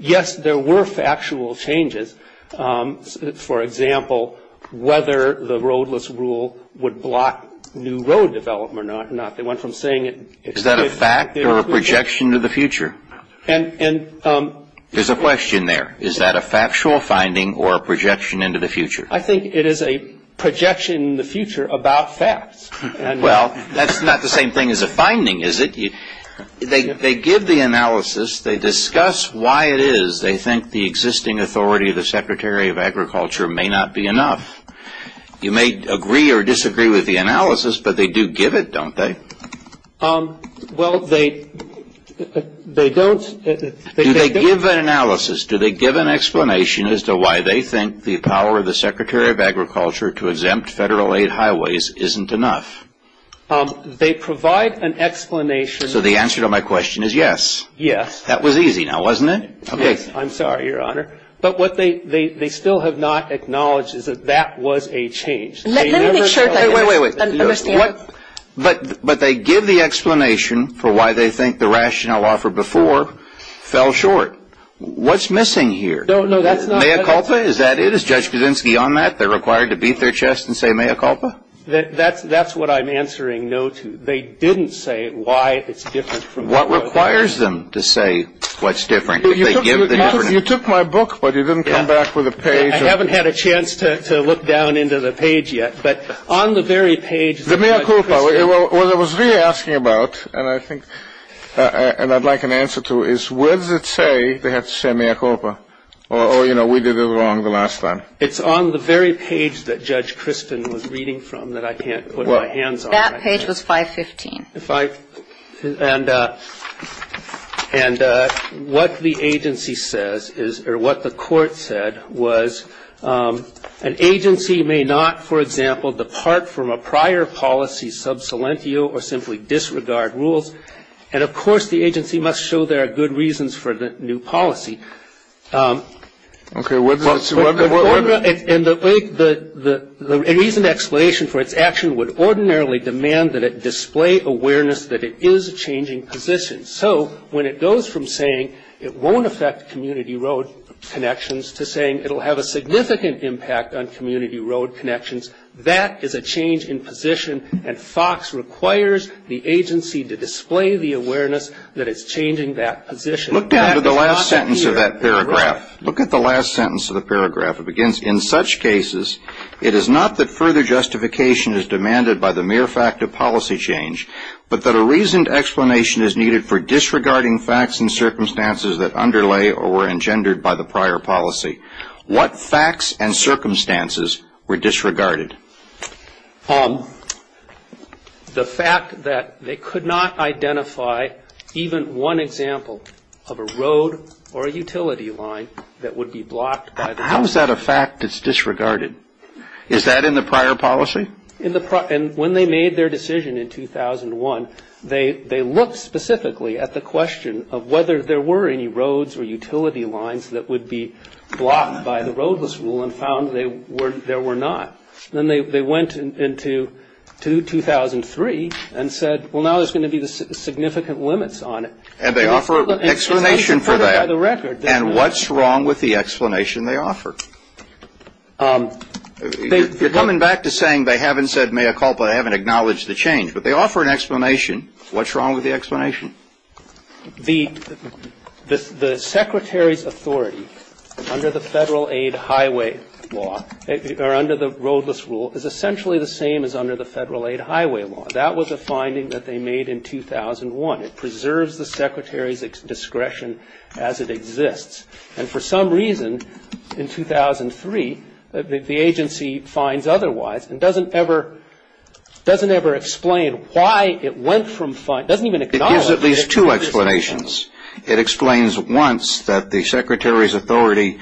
yes, there were factual changes. For example, whether the roadless rule would block new road development or not. They went from saying it excluded ______. Is that a fact or a projection to the future? There's a question there. Is that a factual finding or a projection into the future? I think it is a projection in the future about facts. Well, that's not the same thing as a finding, is it? They give the analysis. They discuss why it is they think the existing authority of the Secretary of Agriculture may not be enough. You may agree or disagree with the analysis, but they do give it, don't they? Well, they don't. Do they give an analysis? Do they give an explanation as to why they think the power of the Secretary of Agriculture to exempt Federal-aid highways isn't enough? They provide an explanation. So the answer to my question is yes? Yes. That was easy, now, wasn't it? Yes. I'm sorry, Your Honor. But what they still have not acknowledged is that that was a change. Let me make sure that I understand. But they give the explanation for why they think the rationale offered before fell short. What's missing here? No, no, that's not it. Mea culpa? Is that it? Is Judge Kuczynski on that? They're required to beat their chest and say mea culpa? That's what I'm answering no to. They didn't say why it's different from what was. What requires them to say what's different? You took my book, but you didn't come back with a page. I haven't had a chance to look down into the page yet. But on the very page that Judge Kuczynski. The mea culpa, what I was really asking about, and I think, and I'd like an answer to, is where does it say they have to say mea culpa? Or, you know, we did it wrong the last time. It's on the very page that Judge Crispin was reading from that I can't put my hands on. That page was 515. And what the agency says is, or what the court said, was an agency may not, for example, depart from a prior policy sub salientio or simply disregard rules. And, of course, the agency must show there are good reasons for the new policy. Okay. And the reason explanation for its action would ordinarily demand that it display awareness that it is a changing position. So when it goes from saying it won't affect community road connections to saying it will have a significant impact on that is a change in position and FOX requires the agency to display the awareness that it's changing that position. Look down to the last sentence of that paragraph. Look at the last sentence of the paragraph. It begins, in such cases, it is not that further justification is demanded by the mere fact of policy change, but that a reasoned explanation is needed for disregarding facts and circumstances that underlay or were engendered by the prior policy. What facts and circumstances were disregarded? The fact that they could not identify even one example of a road or a utility line that would be blocked. How is that a fact that's disregarded? Is that in the prior policy? In the prior. And when they made their decision in 2001, they looked specifically at the question of whether there were any roads or utility lines that would be blocked by the roadless rule and found there were not. Then they went into 2003 and said, well, now there's going to be significant limits on it. And they offer an explanation for that. And what's wrong with the explanation they offer? You're coming back to saying they haven't said mea culpa, they haven't acknowledged the change. But they offer an explanation. What's wrong with the explanation? The Secretary's authority under the Federal-aid highway law, or under the roadless rule, is essentially the same as under the Federal-aid highway law. That was a finding that they made in 2001. It preserves the Secretary's discretion as it exists. And for some reason, in 2003, the agency finds otherwise and doesn't ever explain why it went from finding, doesn't even acknowledge it. It gives at least two explanations. It explains once that the Secretary's authority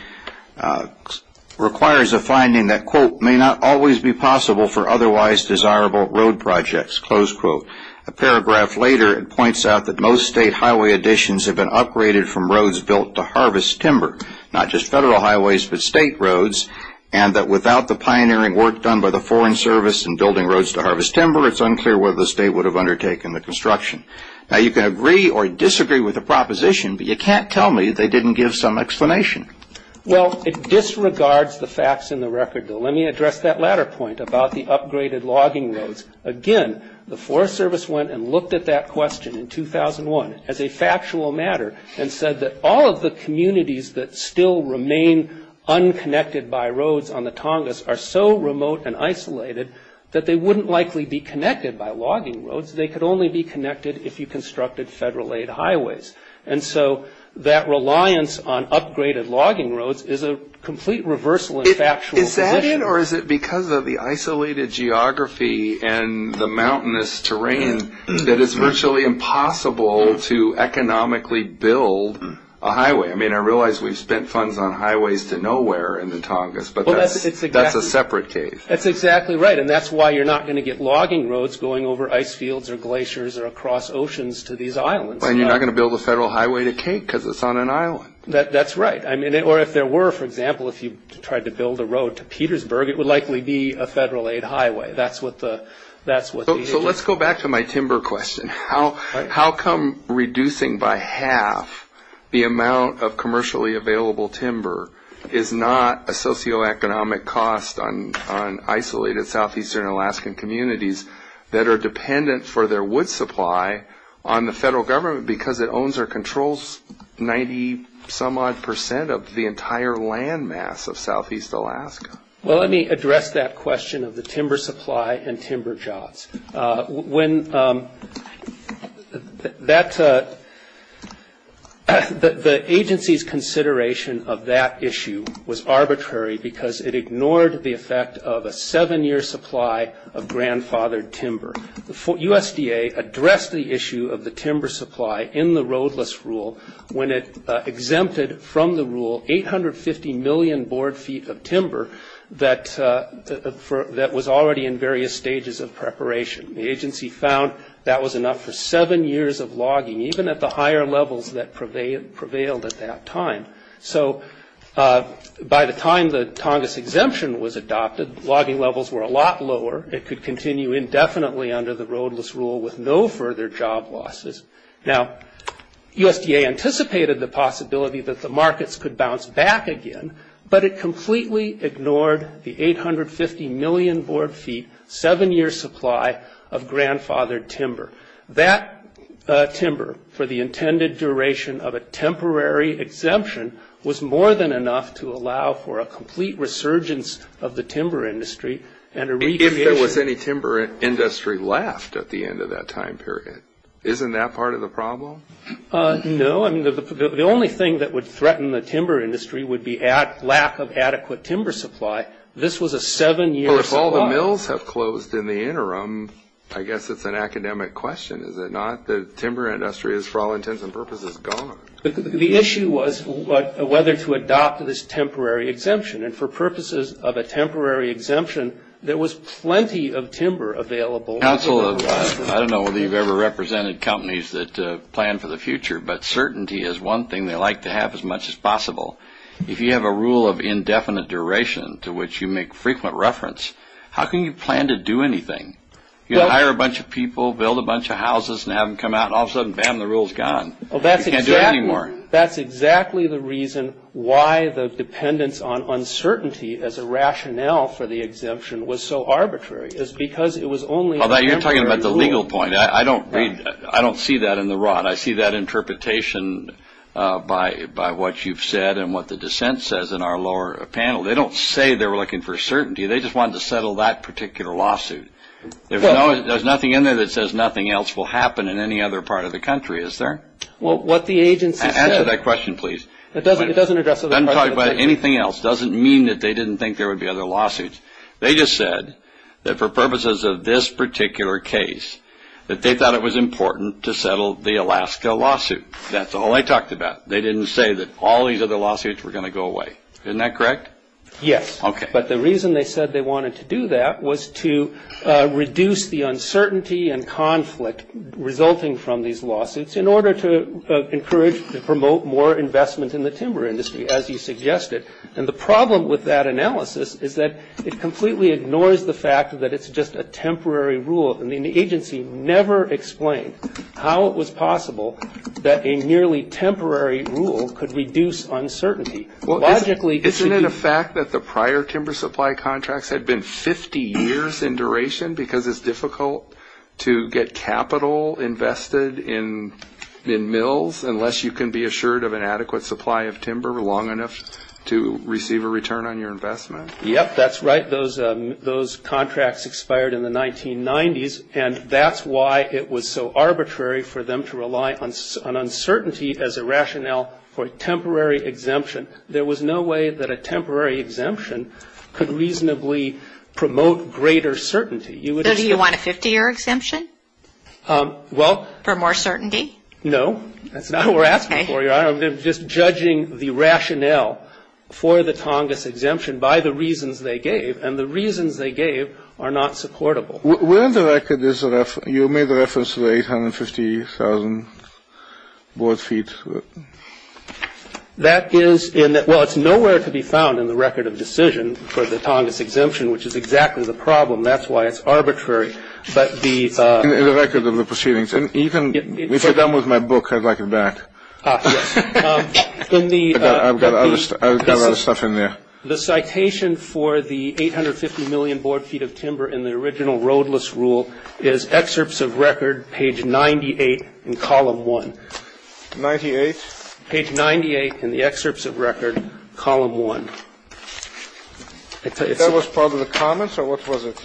requires a finding that, quote, may not always be possible for otherwise desirable road projects, close quote. A paragraph later, it points out that most state highway additions have been upgraded from roads built to harvest timber, not just Federal highways but state roads, and that without the pioneering work done by the Foreign Service in building roads to harvest timber, it's unclear whether the state would have undertaken the construction. Now, you can agree or disagree with the proposition, but you can't tell me they didn't give some explanation. Well, it disregards the facts in the record, Bill. Let me address that latter point about the upgraded logging roads. Again, the Forest Service went and looked at that question in 2001 as a factual matter and said that all of the communities that still remain unconnected by roads on the Tongass are so remote and isolated that they wouldn't likely be connected by logging roads. They could only be connected if you constructed Federal-aid highways. And so that reliance on upgraded logging roads is a complete reversal in factual position. Is that it, or is it because of the isolated geography and the mountainous terrain that it's virtually impossible to economically build a highway? I mean, I realize we've spent funds on highways to nowhere in the Tongass, but that's a separate case. That's exactly right, and that's why you're not going to get logging roads going over ice fields or glaciers or across oceans to these islands. And you're not going to build a Federal highway to Cape because it's on an island. That's right, or if there were, for example, if you tried to build a road to Petersburg, it would likely be a Federal-aid highway. So let's go back to my timber question. How come reducing by half the amount of commercially available timber is not a socioeconomic cost on isolated southeastern Alaskan communities that are dependent for their wood supply on the Federal Government because it owns or controls 90-some-odd percent of the entire land mass of southeast Alaska? Well, let me address that question of the timber supply and timber jobs. The agency's consideration of that issue was arbitrary because it ignored the effect of a seven-year supply of grandfathered timber. USDA addressed the issue of the timber supply in the roadless rule. When it exempted from the rule 850 million board feet of timber that was already in various stages of preparation. The agency found that was enough for seven years of logging, even at the higher levels that prevailed at that time. So by the time the Tongass exemption was adopted, logging levels were a lot lower. It could continue indefinitely under the roadless rule with no further job losses. Now, USDA anticipated the possibility that the markets could bounce back again, but it completely ignored the 850 million board feet, seven-year supply of grandfathered timber. That timber, for the intended duration of a temporary exemption, was more than enough to allow for a complete resurgence of the timber industry and a recreation. If there was any timber industry left at the end of that time period, isn't that part of the problem? No. The only thing that would threaten the timber industry would be lack of adequate timber supply. This was a seven-year supply. Well, if all the mills have closed in the interim, I guess it's an academic question, is it not? The timber industry is, for all intents and purposes, gone. The issue was whether to adopt this temporary exemption, and for purposes of a temporary exemption, there was plenty of timber available. I don't know whether you've ever represented companies that plan for the future, but certainty is one thing they like to have as much as possible. If you have a rule of indefinite duration to which you make frequent reference, how can you plan to do anything? You hire a bunch of people, build a bunch of houses, and have them come out, and all of a sudden, bam, the rule's gone. You can't do it anymore. That's exactly the reason why the dependence on uncertainty as a rationale for the exemption was so arbitrary, is because it was only a temporary rule. You're talking about the legal point. I don't see that in the rod. I see that interpretation by what you've said and what the dissent says in our lower panel. They don't say they were looking for certainty. They just wanted to settle that particular lawsuit. There's nothing in there that says nothing else will happen in any other part of the country, is there? Well, what the agency said – Answer that question, please. It doesn't address other questions. It doesn't talk about anything else. It doesn't mean that they didn't think there would be other lawsuits. They just said that for purposes of this particular case, that they thought it was important to settle the Alaska lawsuit. That's all they talked about. They didn't say that all these other lawsuits were going to go away. Isn't that correct? Yes. Okay. But the reason they said they wanted to do that was to reduce the uncertainty and conflict resulting from these lawsuits in order to encourage and promote more investment in the timber industry, as you suggested. And the problem with that analysis is that it completely ignores the fact that it's just a temporary rule. I mean, the agency never explained how it was possible that a nearly temporary rule could reduce uncertainty. Well, isn't it a fact that the prior timber supply contracts had been 50 years in duration because it's difficult to get capital invested in mills unless you can be assured of an adequate supply of timber long enough to receive a return on your investment? Yes, that's right. Those contracts expired in the 1990s, and that's why it was so arbitrary for them to rely on uncertainty as a rationale for a temporary exemption. There was no way that a temporary exemption could reasonably promote greater certainty. So do you want a 50-year exemption for more certainty? No, that's not what we're asking for. We're just judging the rationale for the Tongass exemption by the reasons they gave, and the reasons they gave are not supportable. You made the reference to the 850,000 board feet. Well, it's nowhere to be found in the record of decision for the Tongass exemption, which is exactly the problem. That's why it's arbitrary. In the record of the proceedings. If you're done with my book, I'd like it back. I've got a lot of stuff in there. The citation for the 850 million board feet of timber in the original roadless rule is excerpts of record, page 98 in column 1. 98? Page 98 in the excerpts of record, column 1. That was part of the comments, or what was it?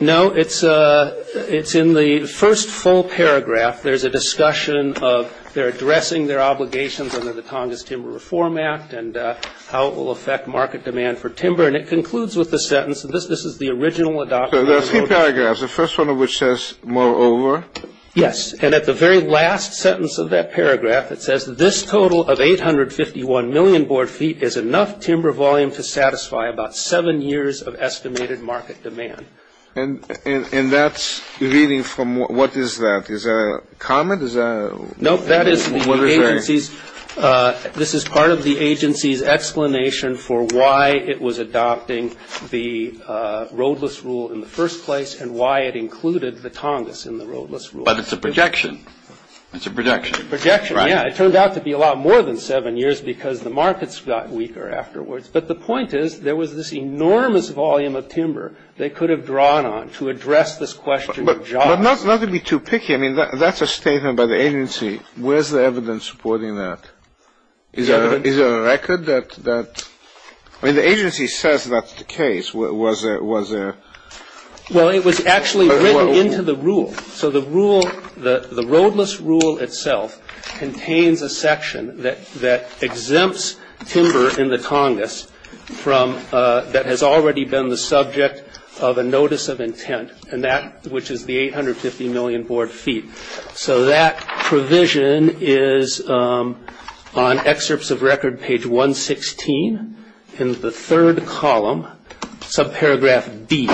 No, it's in the first full paragraph. There's a discussion of they're addressing their obligations under the Tongass Timber Reform Act and how it will affect market demand for timber, and it concludes with the sentence, and this is the original adopted roadless rule. So there are three paragraphs, the first one of which says, moreover. It says, this total of 851 million board feet is enough timber volume to satisfy about seven years of estimated market demand. And that's reading from what is that? Is that a comment? No, that is the agency's. This is part of the agency's explanation for why it was adopting the roadless rule in the first place and why it included the Tongass in the roadless rule. But it's a projection. It's a projection. Projection, yeah. It turned out to be a lot more than seven years because the markets got weaker afterwards. But the point is there was this enormous volume of timber they could have drawn on to address this question of jobs. But not to be too picky. I mean, that's a statement by the agency. Where's the evidence supporting that? Is there a record that the agency says that's the case? Was there? Well, it was actually written into the rule. So the rule, the roadless rule itself contains a section that exempts timber in the Tongass that has already been the subject of a notice of intent, which is the 850 million board feet. So that provision is on excerpts of record page 116 in the third column, subparagraph D.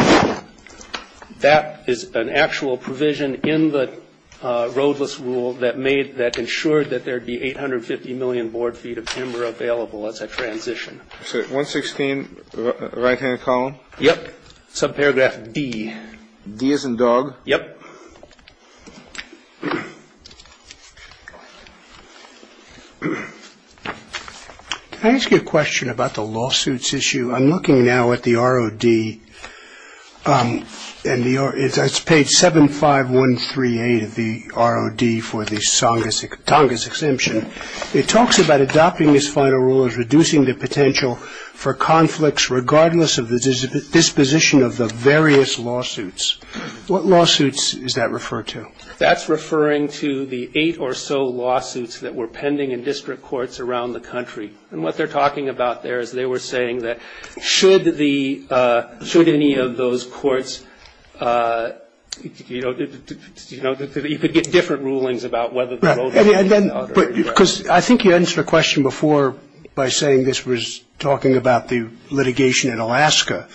That is an actual provision in the roadless rule that made, that ensured that there would be 850 million board feet of timber available as a transition. So 116, right-hand column? Yep. Subparagraph D. D as in dog? Yep. Can I ask you a question about the lawsuits issue? I'm looking now at the ROD, and it's page 75138 of the ROD for the Tongass exemption. It talks about adopting this final rule as reducing the potential for conflicts, regardless of the disposition of the various lawsuits. What lawsuits is that referred to? That's referring to the eight or so lawsuits that were pending in district courts around the country. And what they're talking about there is they were saying that should the, should any of those courts, you know, you could get different rulings about whether the roadless or not. Because I think you answered a question before by saying this was talking about the litigation in Alaska.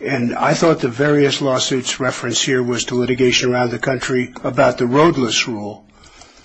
And I thought the various lawsuits referenced here was to litigation around the country about the roadless rule.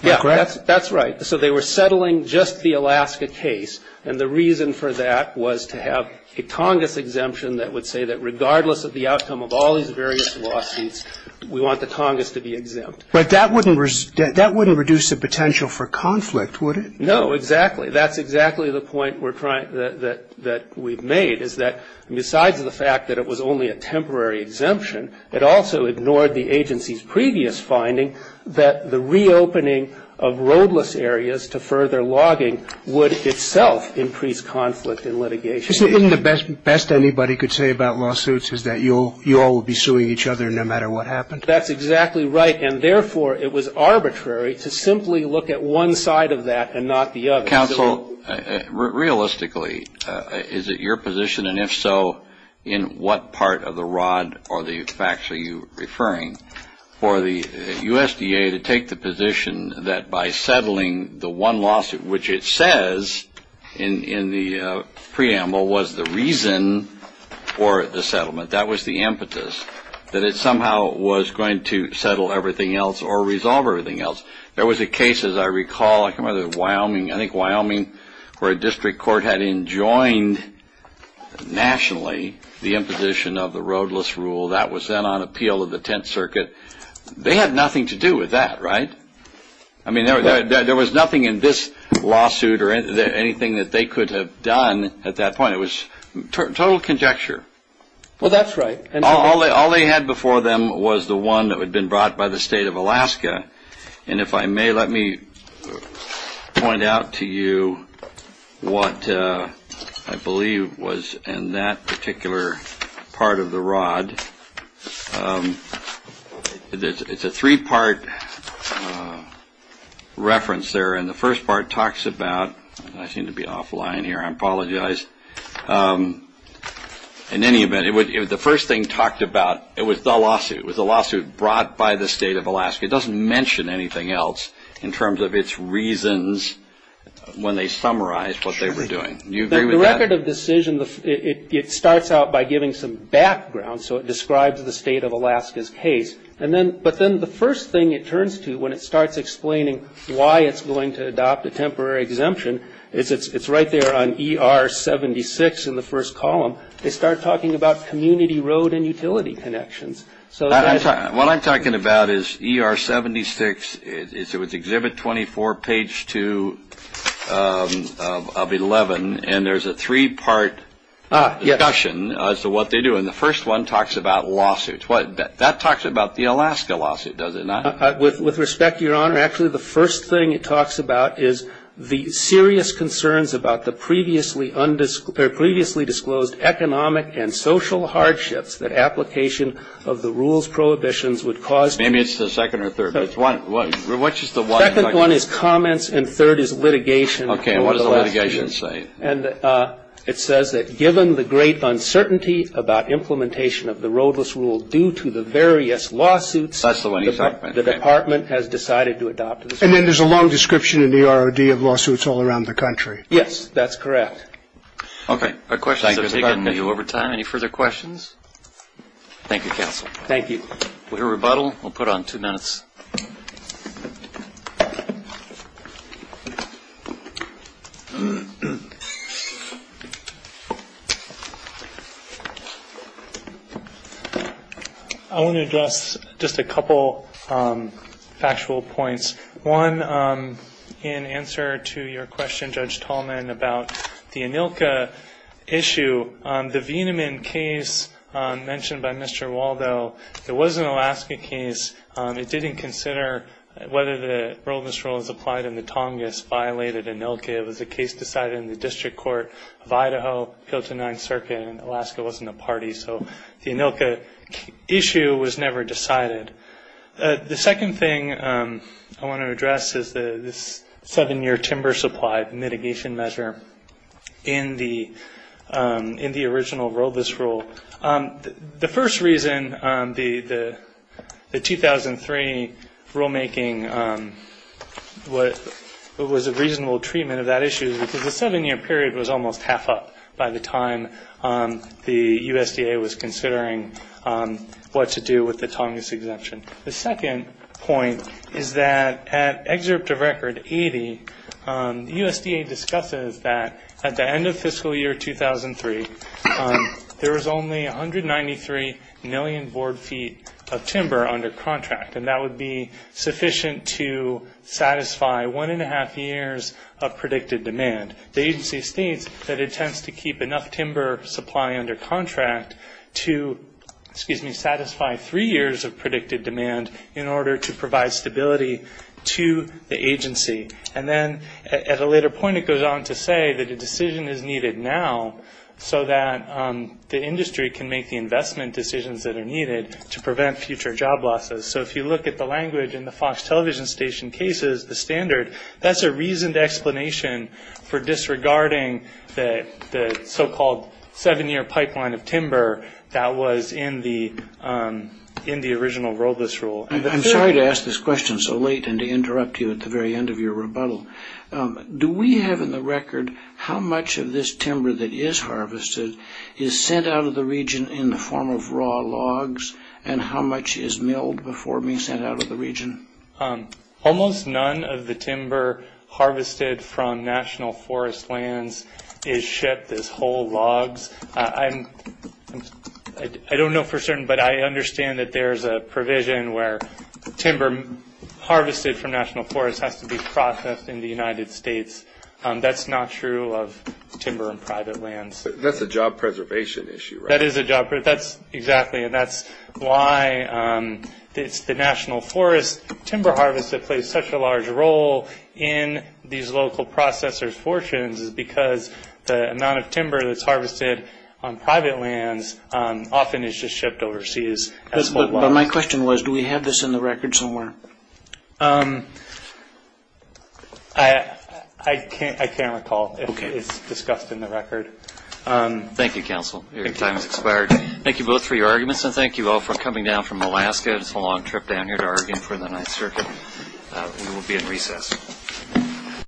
Am I correct? Yeah, that's right. So they were settling just the Alaska case. And the reason for that was to have a Tongass exemption that would say that regardless of the outcome of all these various lawsuits, we want the Tongass to be exempt. But that wouldn't reduce the potential for conflict, would it? No, exactly. That's exactly the point we're trying, that we've made, is that besides the fact that it was only a temporary exemption, it also ignored the agency's previous finding that the reopening of roadless areas to further logging would itself increase conflict in litigation. Isn't the best anybody could say about lawsuits is that you all will be suing each other no matter what happened? That's exactly right. And, therefore, it was arbitrary to simply look at one side of that and not the other. Realistically, is it your position, and if so, in what part of the rod or the facts are you referring, for the USDA to take the position that by settling the one lawsuit, which it says in the preamble was the reason for the settlement, that was the impetus, that it somehow was going to settle everything else or resolve everything else? There was a case, as I recall, I can't remember, Wyoming, I think Wyoming, where a district court had enjoined nationally the imposition of the roadless rule. That was then on appeal of the Tenth Circuit. They had nothing to do with that, right? I mean, there was nothing in this lawsuit or anything that they could have done at that point. It was total conjecture. Well, that's right. All they had before them was the one that had been brought by the state of Alaska. And if I may, let me point out to you what I believe was in that particular part of the rod. It's a three-part reference there. And the first part talks about, I seem to be offline here, I apologize. In any event, the first thing talked about, it was the lawsuit. It was the lawsuit brought by the state of Alaska. It doesn't mention anything else in terms of its reasons when they summarized what they were doing. Do you agree with that? The record of decision, it starts out by giving some background, so it describes the state of Alaska's case. But then the first thing it turns to when it starts explaining why it's going to adopt a temporary exemption, it's right there on ER-76 in the first column. They start talking about community road and utility connections. What I'm talking about is ER-76. It was Exhibit 24, page 2 of 11. And there's a three-part discussion as to what they do. And the first one talks about lawsuits. That talks about the Alaska lawsuit, does it not? With respect, Your Honor, actually the first thing it talks about is the serious concerns about the previously undisclosed or previously disclosed economic and social hardships that application of the rules prohibitions would cause. Maybe it's the second or third. Which is the one? Second one is comments, and third is litigation. Okay, and what does the litigation say? And it says that given the great uncertainty about implementation of the roadless rule due to the various lawsuits. That's the one you talked about. The department has decided to adopt it. And then there's a long description in the ROD of lawsuits all around the country. Yes, that's correct. Okay, our questions have taken you over time. Any further questions? Thank you, counsel. Thank you. We'll rebuttal. We'll put on two minutes. I want to address just a couple factual points. One, in answer to your question, Judge Tallman, about the ANILCA issue, the Veneman case mentioned by Mr. Waldo, it was an Alaska case. It didn't consider whether the roadless rule was applied in the Tongass, violated ANILCA. It was a case decided in the district court of Idaho, built a ninth circuit, and Alaska wasn't a party. So the ANILCA issue was never decided. The second thing I want to address is this seven-year timber supply mitigation measure in the original roadless rule. The first reason the 2003 rulemaking was a reasonable treatment of that issue is because the seven-year period was almost half up by the time the USDA was considering what to do with the Tongass exemption. The second point is that at excerpt of record 80, the USDA discusses that at the end of fiscal year 2003, there was only 193 million board feet of timber under contract, and that would be sufficient to satisfy one-and-a-half years of predicted demand. The agency states that it tends to keep enough timber supply under contract to, excuse me, satisfy three years of predicted demand in order to provide stability to the agency. And then at a later point, it goes on to say that a decision is needed now so that the industry can make the investment decisions that are needed to prevent future job losses. So if you look at the language in the Fox television station cases, the standard, that's a reasoned explanation for disregarding the so-called seven-year pipeline of timber that was in the original roadless rule. I'm sorry to ask this question so late and to interrupt you at the very end of your rebuttal. Do we have in the record how much of this timber that is harvested is sent out of the region in the form of raw logs, and how much is milled before being sent out of the region? Almost none of the timber harvested from national forest lands is shipped as whole logs. I don't know for certain, but I understand that there's a provision where timber harvested from national forests has to be processed in the United States. That's not true of timber in private lands. That's a job preservation issue, right? That is a job preservation issue, exactly, and that's why it's the national forest timber harvest that plays such a large role in these local processors' fortunes is because the amount of timber that's harvested on private lands often is just shipped overseas as whole logs. But my question was, do we have this in the record somewhere? I can't recall if it's discussed in the record. Thank you, counsel. Your time has expired. Thank you both for your arguments, and thank you all for coming down from Alaska. It's a long trip down here to Oregon for the Ninth Circuit. We will be in recess.